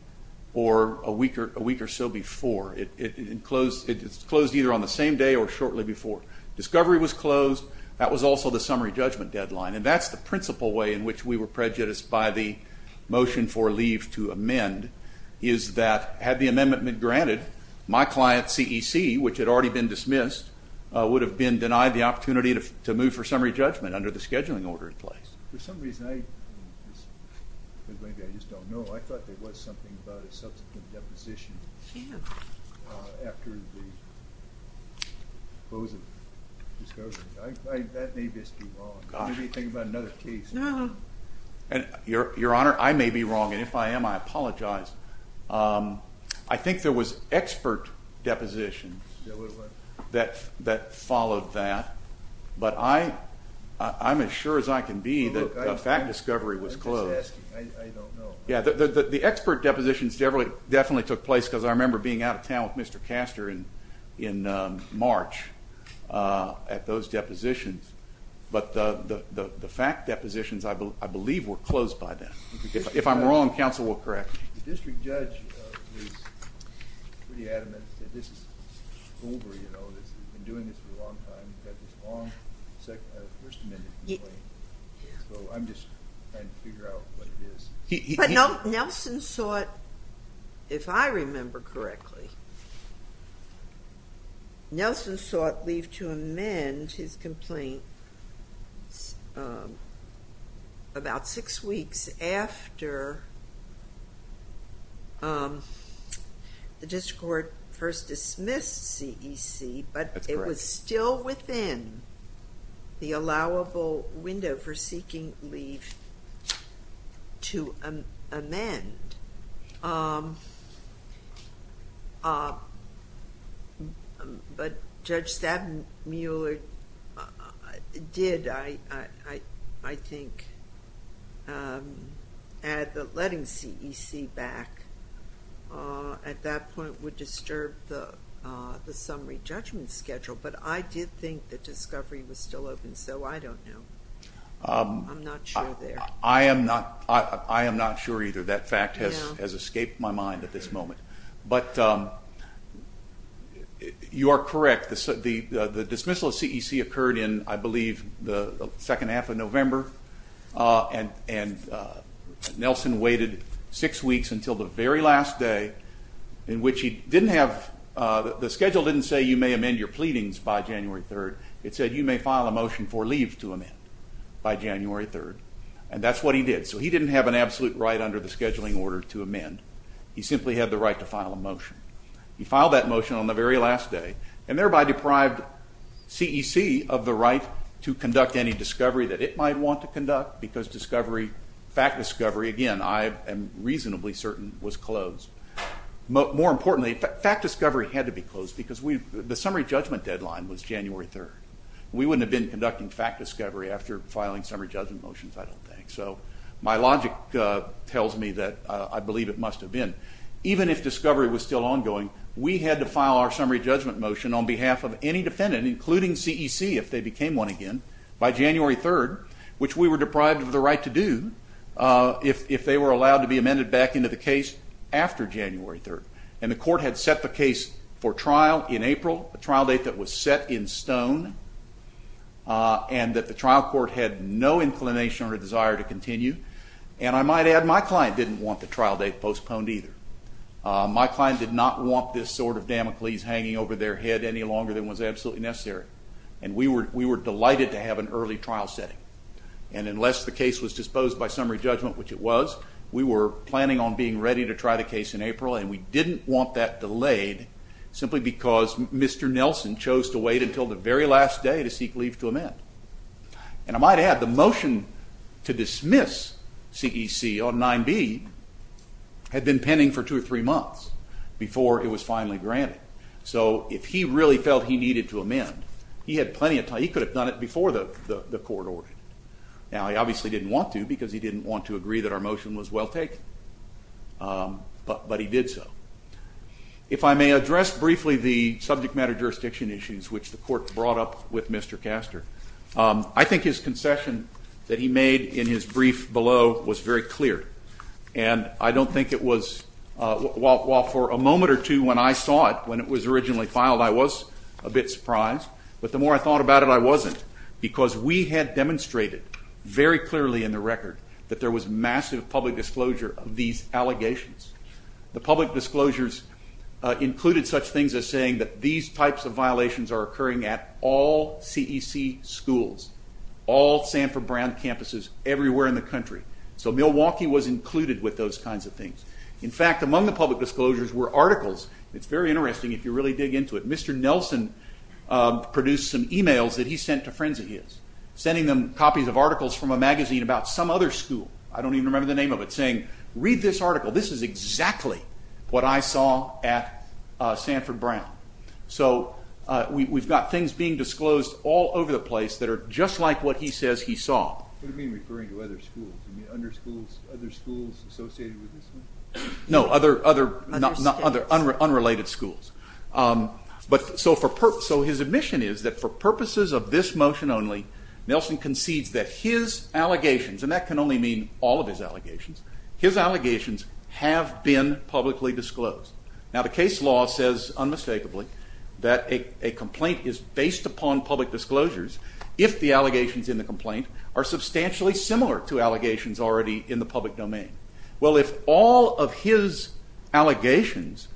or a week or so before. It closed either on the same day or shortly before. Discovery was closed. That was also the summary judgment deadline, and that's the principal way in which we were prejudiced by the motion for leave to amend is that had the amendment been granted, my client, CEC, which had already been dismissed, would have been denied the opportunity to move for summary judgment under the scheduling order in place. For some reason, I just don't know. I thought there was something about a subsequent deposition after the closing of discovery. That may just be wrong. Maybe think about another case. Your Honor, I may be wrong, and if I am, I apologize. I think there was expert deposition that followed that, but I'm as sure as I can be that that discovery was closed. I don't know. Yeah, the expert depositions definitely took place because I remember being out of town with Mr. Castor in March at those depositions, but the fact depositions I believe were closed by then. If I'm wrong, counsel will correct me. The district judge is pretty adamant that this is over, you know, that we've been doing this for a long time. We've had this long section of the First Amendment. So I'm just trying to figure out what it is. But Nelson sought, if I remember correctly, Nelson sought leave to amend his complaint about six weeks after the district court first dismissed CEC, but it was still within the allowable window for seeking leave to amend. But Judge Stabenmueller did, I think, add that letting CEC back at that point would disturb the summary judgment schedule, but I did think the discovery was still open, so I don't know. I'm not sure there. I am not sure either. That fact has escaped my mind at this moment. But you are correct. The dismissal of CEC occurred in, I believe, the second half of November, and Nelson waited six weeks until the very last day in which he didn't have, the schedule didn't say you may amend your pleadings by January 3rd. It said you may file a motion for leave to amend by January 3rd, and that's what he did. So he didn't have an absolute right under the scheduling order to amend. He simply had the right to file a motion. He filed that motion on the very last day and thereby deprived CEC of the right to conduct any discovery that it might want to conduct because discovery, fact discovery, again, I am reasonably certain was closed. More importantly, fact discovery had to be closed because the summary judgment deadline was January 3rd. We wouldn't have been conducting fact discovery after filing summary judgment motions, I don't think. So my logic tells me that I believe it must have been. Even if discovery was still ongoing, we had to file our summary judgment motion on behalf of any defendant, including CEC if they became one again, by January 3rd, which we were deprived of the right to do if they were allowed to be amended back into the case after January 3rd. And the court had set the case for trial in April, a trial date that was set in stone, and that the trial court had no inclination or desire to continue. And I might add my client didn't want the trial date postponed either. My client did not want this sort of damocles hanging over their head any longer than was absolutely necessary. And we were delighted to have an early trial setting. And unless the case was disposed by summary judgment, which it was, we were planning on being ready to try the case in April and we didn't want that delayed simply because Mr. Nelson chose to wait until the very last day to seek leave to amend. And I might add the motion to dismiss CEC on 9b had been pending for two or three months So if he really felt he needed to amend, he could have done it before the court ordered it. Now he obviously didn't want to because he didn't want to agree that our motion was well taken. But he did so. If I may address briefly the subject matter jurisdiction issues which the court brought up with Mr. Castor, I think his concession that he made in his brief below was very clear. And I don't think it was... While for a moment or two when I saw it, when it was originally filed, I was a bit surprised. But the more I thought about it, I wasn't. Because we had demonstrated very clearly in the record that there was massive public disclosure of these allegations. The public disclosures included such things as saying that these types of violations are occurring at all CEC schools, all Sanford Brown campuses everywhere in the country. So Milwaukee was included with those kinds of things. In fact, among the public disclosures were articles. It's very interesting if you really dig into it. Mr. Nelson produced some emails that he sent to friends of his, sending them copies of articles from a magazine about some other school. I don't even remember the name of it. Saying, read this article. This is exactly what I saw at Sanford Brown. So we've got things being disclosed all over the place that are just like what he says he saw. What do you mean referring to other schools? Other schools associated with the school? No, other unrelated schools. So his admission is that for purposes of this motion only, Nelson concedes that his allegations, and that can only mean all of his allegations, his allegations have been publicly disclosed. Now the case law says, unmistakably, that a complaint is based upon public disclosures if the allegations in the complaint are substantially similar to allegations already in the public domain. Well, if all of his allegations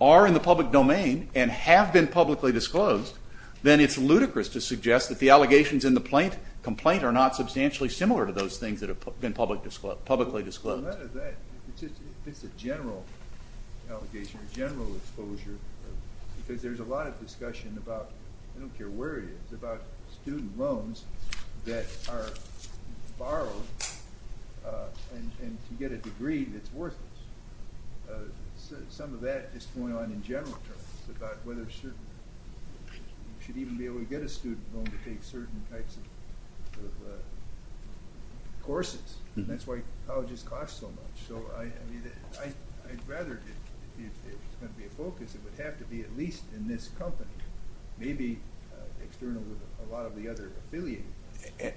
are in the public domain and have been publicly disclosed, then it's ludicrous to suggest that the allegations in the complaint are not substantially similar to those things that have been publicly disclosed. It's a general allegation, general exposure, because there's a lot of discussion about, I don't care where it is, about student loans that are borrowed and to get a degree that's worth it. Some of that is going on in general terms, about whether a student should even be able to get a student loan to take certain types of courses. And that's why colleges cost so much. So I'd rather it be a focus, it would have to be at least in this company, maybe a lot of the other affiliates.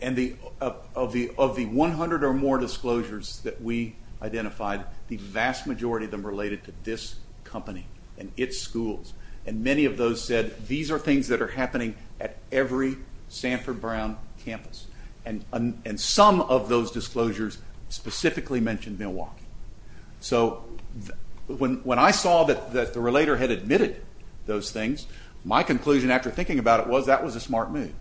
And of the 100 or more disclosures that we identified, the vast majority of them related to this company and its schools. And many of those said, these are things that are happening at every Sanford Brown campus. And some of those disclosures specifically mentioned Milwaukee. So when I saw that the relator had admitted those things, my conclusion after thinking about it was that was a smart move.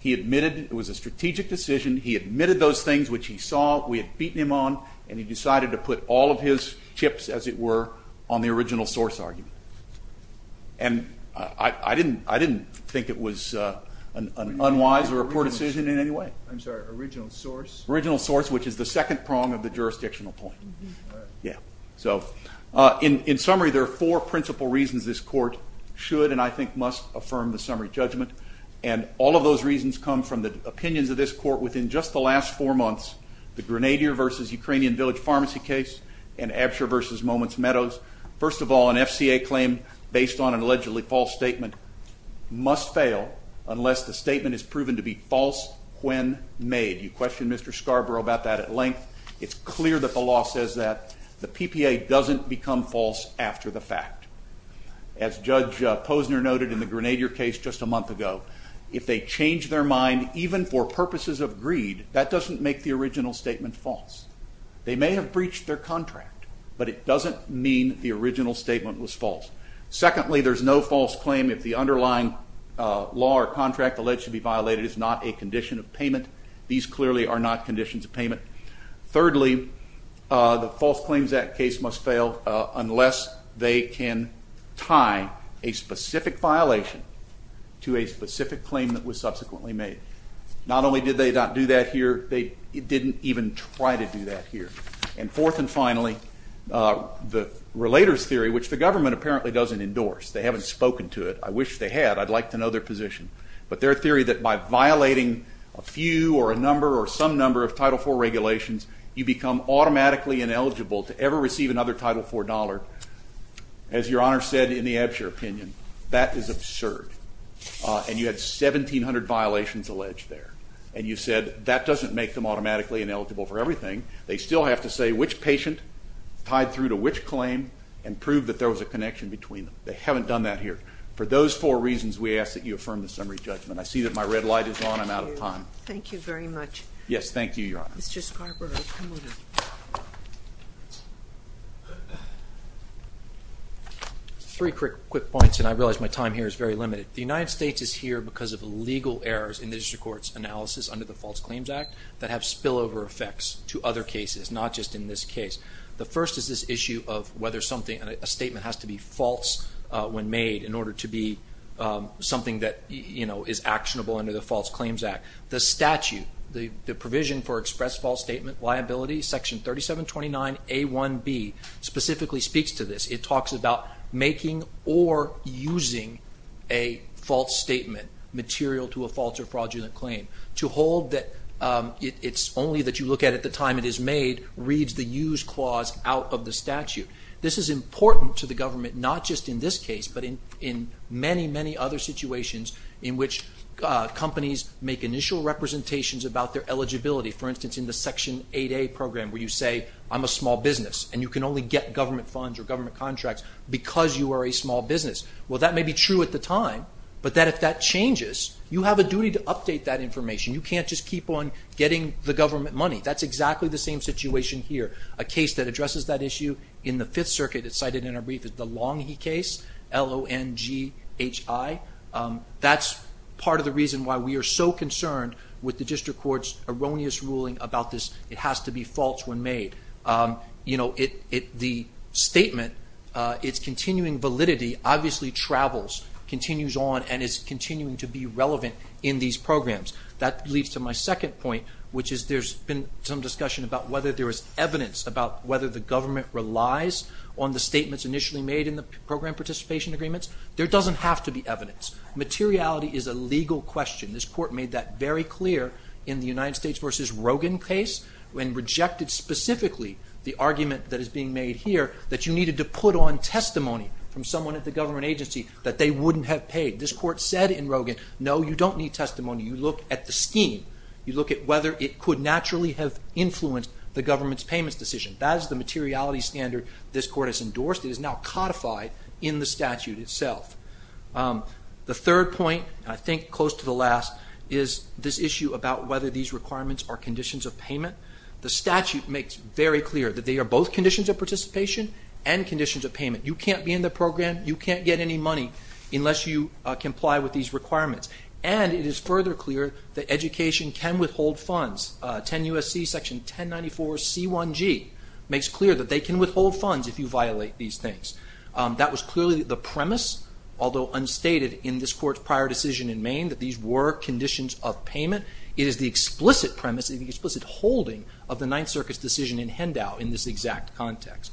He admitted it was a strategic decision, he admitted those things which he saw, we had beaten him on, and he decided to put all of his chips, as it were, on the original source argument. And I didn't think it was an unwise or poor decision in any way. I'm sorry, original source? Original source, which is the second prong of the jurisdictional point. Yeah. So in summary, there are four principal reasons this court should and I think must affirm the summary judgment. And all of those reasons come from the opinions of this court within just the last four months, the Grenadier v. Ukrainian Village Pharmacy case and Absher v. Moments Meadows. First of all, an FCA claim based on an allegedly false statement must fail unless the statement is proven to be false when made. You questioned Mr. Scarborough about that at length. It's clear that the law says that. The PPA doesn't become false after the fact. As Judge Posner noted in the Grenadier case just a month ago, if they change their mind even for purposes of greed, that doesn't make the original statement false. They may have breached their contract, but it doesn't mean the original statement was false. Secondly, there's no false claim if the underlying law or contract alleged to be violated is not a condition of payment. These clearly are not conditions of payment. Thirdly, the False Claims Act case must fail unless they can tie a specific violation to a specific claim that was subsequently made. Not only did they not do that here, they didn't even try to do that here. And fourth and finally, the Relators theory, which the government apparently doesn't endorse. They haven't spoken to it. I wish they had. I'd like to know their position. But their theory that by violating a few or a number or some number of Title IV regulations, you become automatically ineligible to ever receive another Title IV dollar, as Your Honor said in the Ebsher opinion, that is absurd. And you have 1,700 violations alleged there. And you said that doesn't make them automatically ineligible for everything. They still have to say which patient tied through to which claim and prove that there was a connection between them. They haven't done that here. For those four reasons, we ask that you affirm the summary judgment. I see that my red light is on. I'm out of time. Thank you very much. Yes, thank you, Your Honor. Mr. Scarborough, please. Three quick points, and I realize my time here is very limited. The United States is here because of the legal errors in the district court's analysis under the False Claims Act that have spillover effects to other cases, not just in this case. The first is this issue of whether something, a statement has to be false when made in order to be something that, you know, is actionable under the False Claims Act. The statute, the provision for express false statement liability, Section 3729A1B, specifically speaks to this. It talks about making or using a false statement, material to a false or fraudulent claim. To hold that it's only that you look at it at the time it is made reads the use clause out of the statute. This is important to the government, not just in this case, but in many, many other situations in which companies make initial representations about their eligibility. For instance, in the Section 8A program where you say, I'm a small business, and you can only get government funds or government contracts because you are a small business. Well, that may be true at the time, but if that changes, you have a duty to update that information. You can't just keep on getting the government money. That's exactly the same situation here. A case that addresses that issue in the Fifth Circuit that's cited in our brief is the Longhi case, L-O-N-G-H-I. That's part of the reason why we are so concerned with the district court's erroneous ruling about this. It has to be false when made. You know, the statement, its continuing validity obviously travels, continues on, and is continuing to be relevant in these programs. That leads to my second point, which is there's been some discussion about whether there is evidence about whether the government relies on the statements initially made in the program participation agreements. There doesn't have to be evidence. Materiality is a legal question. This court made that very clear in the United States v. Rogin case and rejected specifically the argument that is being made here that you needed to put on testimony from someone at the government agency that they wouldn't have paid. This court said in Rogin, no, you don't need testimony. You look at the scheme. You look at whether it could naturally have influenced the government's payment decision. That is the materiality standard this court has endorsed that is now codified in the statute itself. The third point, I think close to the last, is this issue about whether these requirements are conditions of payment. The statute makes very clear that they are both conditions of participation and conditions of payment. You can't be in the program, you can't get any money unless you comply with these requirements. And it is further clear that education can withhold funds. 10 U.S.C. section 1094C1G makes clear that they can withhold funds if you violate these things. That was clearly the premise, although unstated in this court's prior decision in Maine that these were conditions of payment. It is the explicit premise and the explicit holding of the Ninth Circuit's decision in Hendow in this exact context.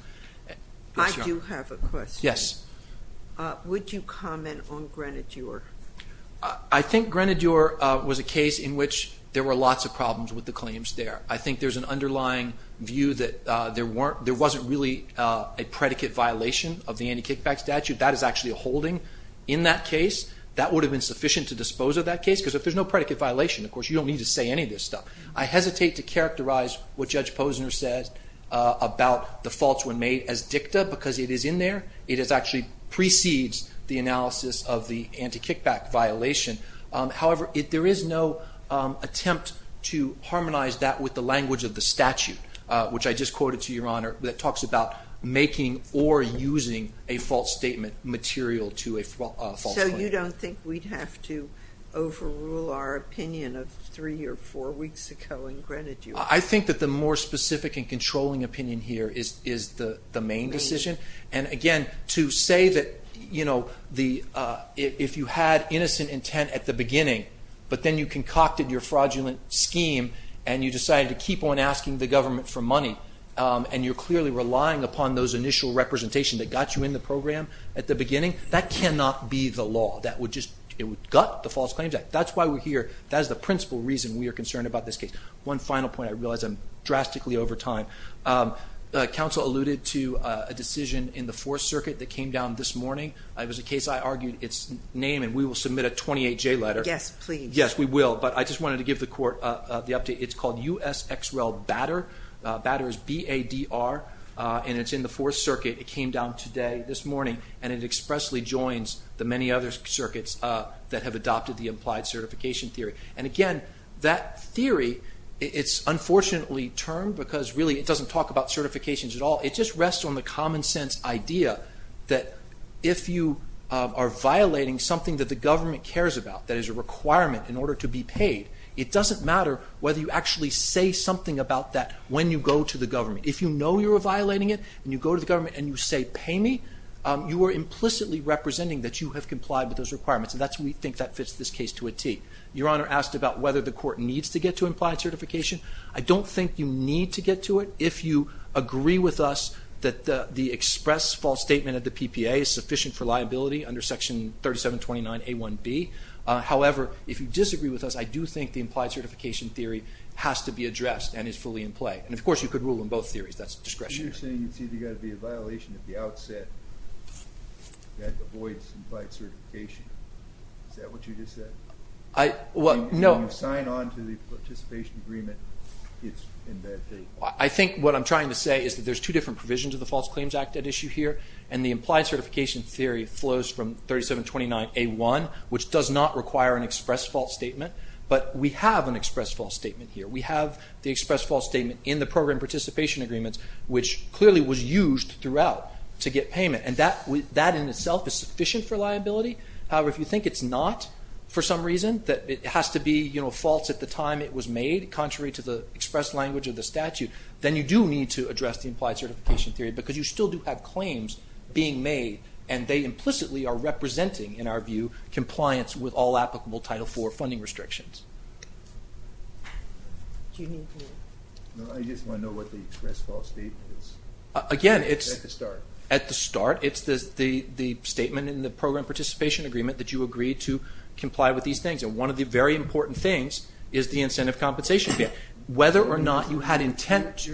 I do have a question. Yes. Would you comment on Grenadier? I think Grenadier was a case in which there were lots of problems with the claims there. I think there's an underlying view that there wasn't really a predicate violation of the anti-kickback statute. That is actually a holding in that case. That would have been sufficient to dispose of that case because if there's no predicate violation, of course, you don't need to say any of this stuff. I hesitate to characterize what Judge Posner says about the faults were made as dicta because it is in there. It actually precedes the analysis of the anti-kickback violation. However, there is no attempt to harmonize that with the language of the statute, which I just quoted to Your Honor, that talks about making or using a false statement material to a false claim. So you don't think we'd have to overrule our opinion of three or four weeks ago in Grenadier? I think that the more specific and controlling opinion here is the Maine decision. Again, to say that if you had innocent intent at the beginning but then you concocted your fraudulent scheme and you decided to keep on asking the government for money and you're clearly relying upon those initial representations that got you in the program at the beginning, that cannot be the law. It would gut the False Claims Act. That's why we're here. That is the principal reason we are concerned about this case. One final point. I realize I'm drastically over time. Counsel alluded to a decision in the Fourth Circuit that came down this morning. It was a case I argued its name, and we will submit a 28-J letter. Yes, please. Yes, we will, but I just wanted to give the court the update. It's called U.S. X. Rel. Batter. Batter is B-A-D-R, and it's in the Fourth Circuit. It came down today, this morning, and it expressly joins the many other circuits that have adopted the implied certification theory. And again, that theory, it's unfortunately termed because really it doesn't talk about certifications at all. It just rests on the common sense idea that if you are violating something that the government cares about, that is a requirement in order to be paid, it doesn't matter whether you actually say something about that when you go to the government. If you know you are violating it, and you go to the government and you say, pay me, you are implicitly representing that you have complied with those requirements, and that's why we think that fits this case to a T. Your Honor asked about whether the court needs to get to implied certification. I don't think you need to get to it. If you agree with us that the expressed false statement of the PPA is sufficient for liability under Section 3729A1B. However, if you disagree with us, I do think the implied certification theory has to be addressed and is fully in play. And of course, you could rule on both theories. That's discretionary. You're saying you think there has to be a violation at the outset that avoids implied certification. Is that what you just said? No. I think what I'm trying to say is that there's two different provisions of the False Claims Act at issue here, and the implied certification theory flows from 3729A1, which does not require an expressed false statement, but we have an expressed false statement here. We have the expressed false statement in the program participation agreements, which clearly was used throughout to get payment. And that in itself is sufficient for liability. However, if you think it's not for some reason, that it has to be false at the time it was made, contrary to the express language of the statute, then you do need to address the implied certification theory because you still do have claims being made, and they implicitly are representing, in our view, compliance with all applicable Title IV funding restrictions. I just want to know what the expressed false statement is. Again, it's... At the start. At the start. It's the statement in the program participation agreement that you agree to comply with these things, and one of the very important things is the incentive compensation here. Whether or not you had intent...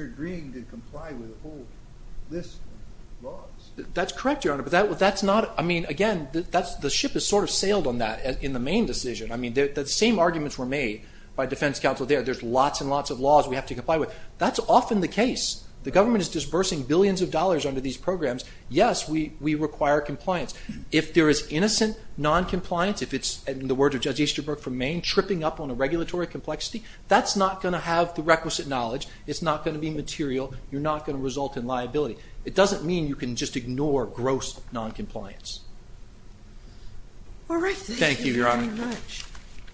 That's correct, Your Honor, but that's not... I mean, again, the ship has sort of sailed on that in the main decision. I mean, the same arguments were made by defense counsel there. There's lots and lots of laws we have to comply with. That's often the case. The government is disbursing billions of dollars under these programs. Yes, we require compliance. If there is innocent noncompliance, if it's, in the words of Judge Easterbrook from Maine, tripping up on a regulatory complexity, that's not going to have the requisite knowledge. It's not going to be material. You're not going to result in liability. It doesn't mean you can just ignore gross noncompliance. All right. Thank you very much. Thank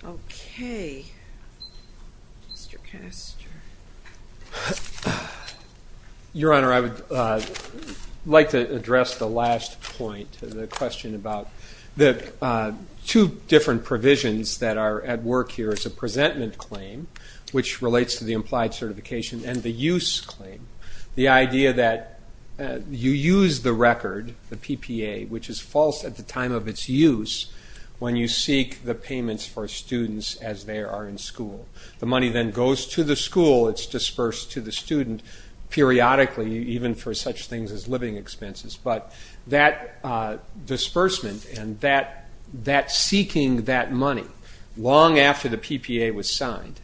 you, Your Honor. OK. Mr. Kessler. Your Honor, I would like to address the last point, the question about the two different provisions that are at work here is a presentment claim, which relates to the implied certification, and the use claim, the idea that you use the record, the PPA, which is false at the time of its use when you seek the payments for students as they are in school. The money then goes to the school. It's dispersed to the student periodically, even for such things as living expenses. But that disbursement and that seeking that money long after the PPA was signed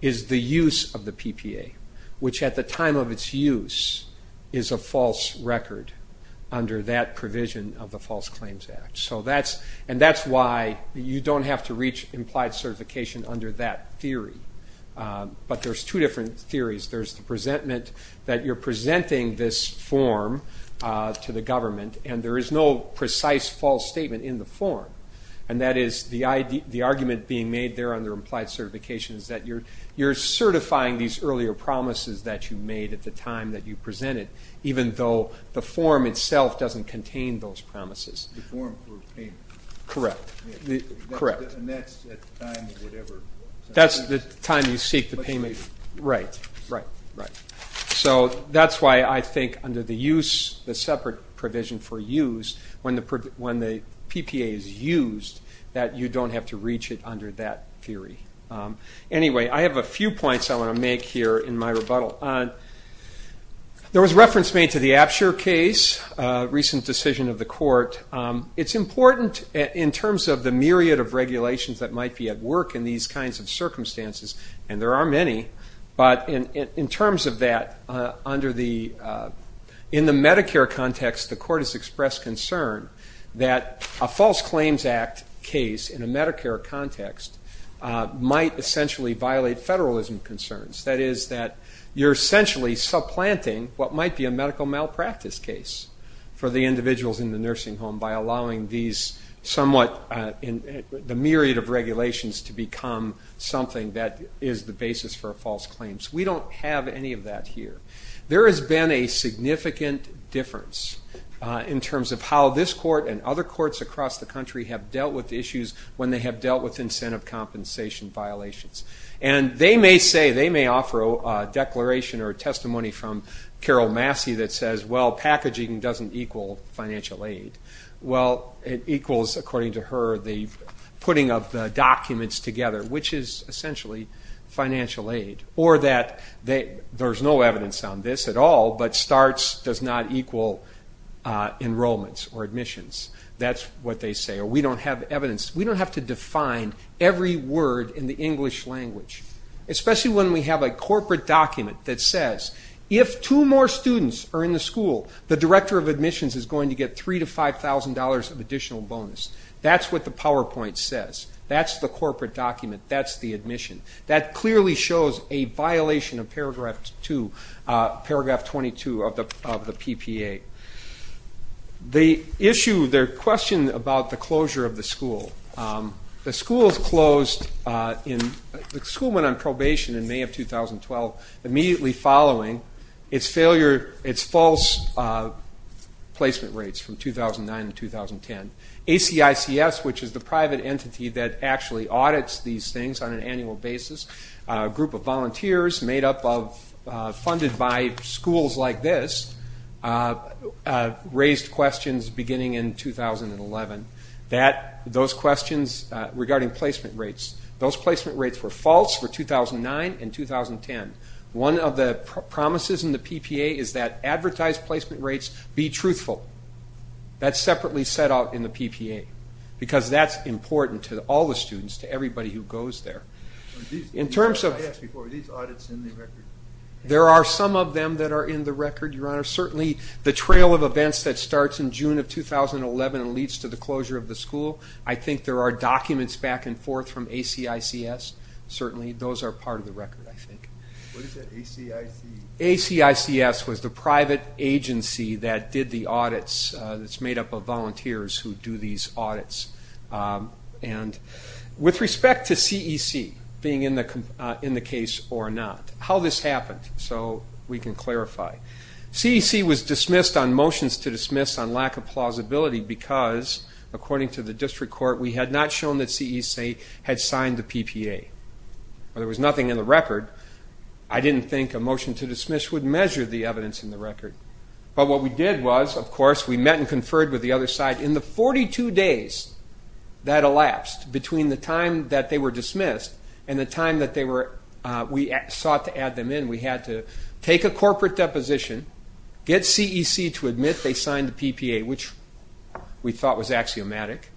is the use of the PPA, which at the time of its use is a false record under that provision of the False Claims Act. And that's why you don't have to reach implied certification under that theory. But there's two different theories. There's the presentment that you're presenting this form to the government, and there is no precise false statement in the form. And that is the argument being made there under implied certification is that you're certifying these earlier promises that you made at the time that you presented, even though the form itself doesn't contain those promises. Correct, correct. That's the time you seek the payment. Right, right, right. So that's why I think under the use, the separate provision for use, when the PPA is used, that you don't have to reach it under that theory. Anyway, I have a few points I want to make here in my rebuttal. There was reference made to the Apsher case, recent decision of the court. It's important in terms of the myriad of regulations that might be at work in these kinds of circumstances, and there are many. But in terms of that, in the Medicare context, the court has expressed concern that a False Claims Act case in a Medicare context might essentially violate federalism concerns. That is that you're essentially supplanting what might be a medical malpractice case for the individuals in the nursing home by allowing these somewhat, the myriad of regulations to become something that is the basis for a false claim. So we don't have any of that here. There has been a significant difference in terms of how this court and other courts across the country have dealt with issues when they have dealt with incentive compensation violations. And they may say, they may offer a declaration or a testimony from Carol Massey that says, well, packaging doesn't equal financial aid. Well, it equals, according to her, the putting of the documents together, which is essentially financial aid. Or that there's no evidence on this at all, but starts does not equal enrollments or admissions. That's what they say. Or we don't have evidence. We don't have to define every word in the English language, especially when we have a corporate document that's says, if two more students are in the school, the director of admissions is going to get $3,000 to $5,000 of additional bonus. That's what the PowerPoint says. That's the corporate document. That's the admission. That clearly shows a violation of paragraph 22 of the PPA. The issue, their question about the closure of the school. The school is closed. The school went on probation in May of 2012 immediately following its false placement rates from 2009 and 2010. ACICS, which is the private entity that actually audits these things on an annual basis, a group of volunteers funded by schools like this, raised questions beginning in 2011 regarding placement rates. Those placement rates were false for 2009 and 2010. One of the promises in the PPA is that advertised placement rates be truthful. That's separately set out in the PPA, because that's important to all the students, to everybody who goes there. In terms of... Are these audits in the record? There are some of them that are in the record, Your Honor. Certainly the trail of events that starts in June of 2011 leads to the closure of the school. I think there are documents back and forth from ACICS. Certainly those are part of the record, I think. What is that, ACICS? ACICS was the private agency that did the audits. It's made up of volunteers who do these audits. And with respect to CEC being in the case or not, how this happened so we can clarify. CEC was dismissed on motions to dismiss on lack of plausibility because, according to the district court, we had not shown that CEC had signed the PPA. There was nothing in the record. I didn't think a motion to dismiss would measure the evidence in the record. But what we did was, of course, we met and conferred with the other side. In the 42 days that elapsed between the time that they were dismissed and the time that we sought to add them in, we had to take a corporate deposition, get CEC to admit they signed the PPA, which we thought was axiomatic,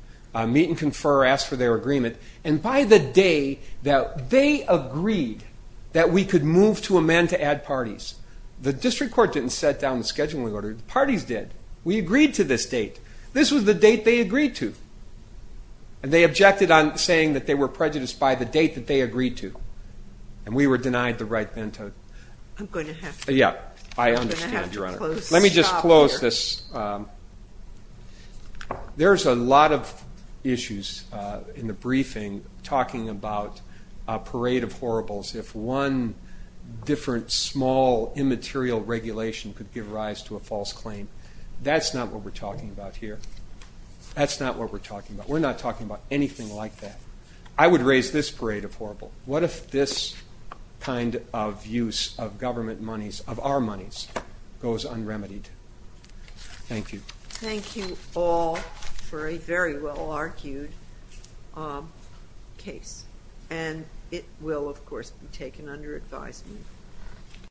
meet and confer, ask for their agreement. And by the day that they agreed that we could move to amend to add parties, the district court didn't set down the schedule we ordered. Parties did. We agreed to this date. This was the date they agreed to. And they objected on saying that they were prejudiced by the date that they agreed to. And we were denied the right then to... I'm going to have to... Yeah, I understand, Your Honor. Let me just close this. There's a lot of issues in the briefing talking about a parade of horribles. If one different, small, immaterial regulation could give rise to a false claim, that's not what we're talking about here. That's not what we're talking about. We're not talking about anything like that. I would raise this parade of horribles. What if this kind of use of government monies, of our monies, goes unremitied? Thank you. Thank you all for a very well-argued case. And it will, of course, be taken under advisement.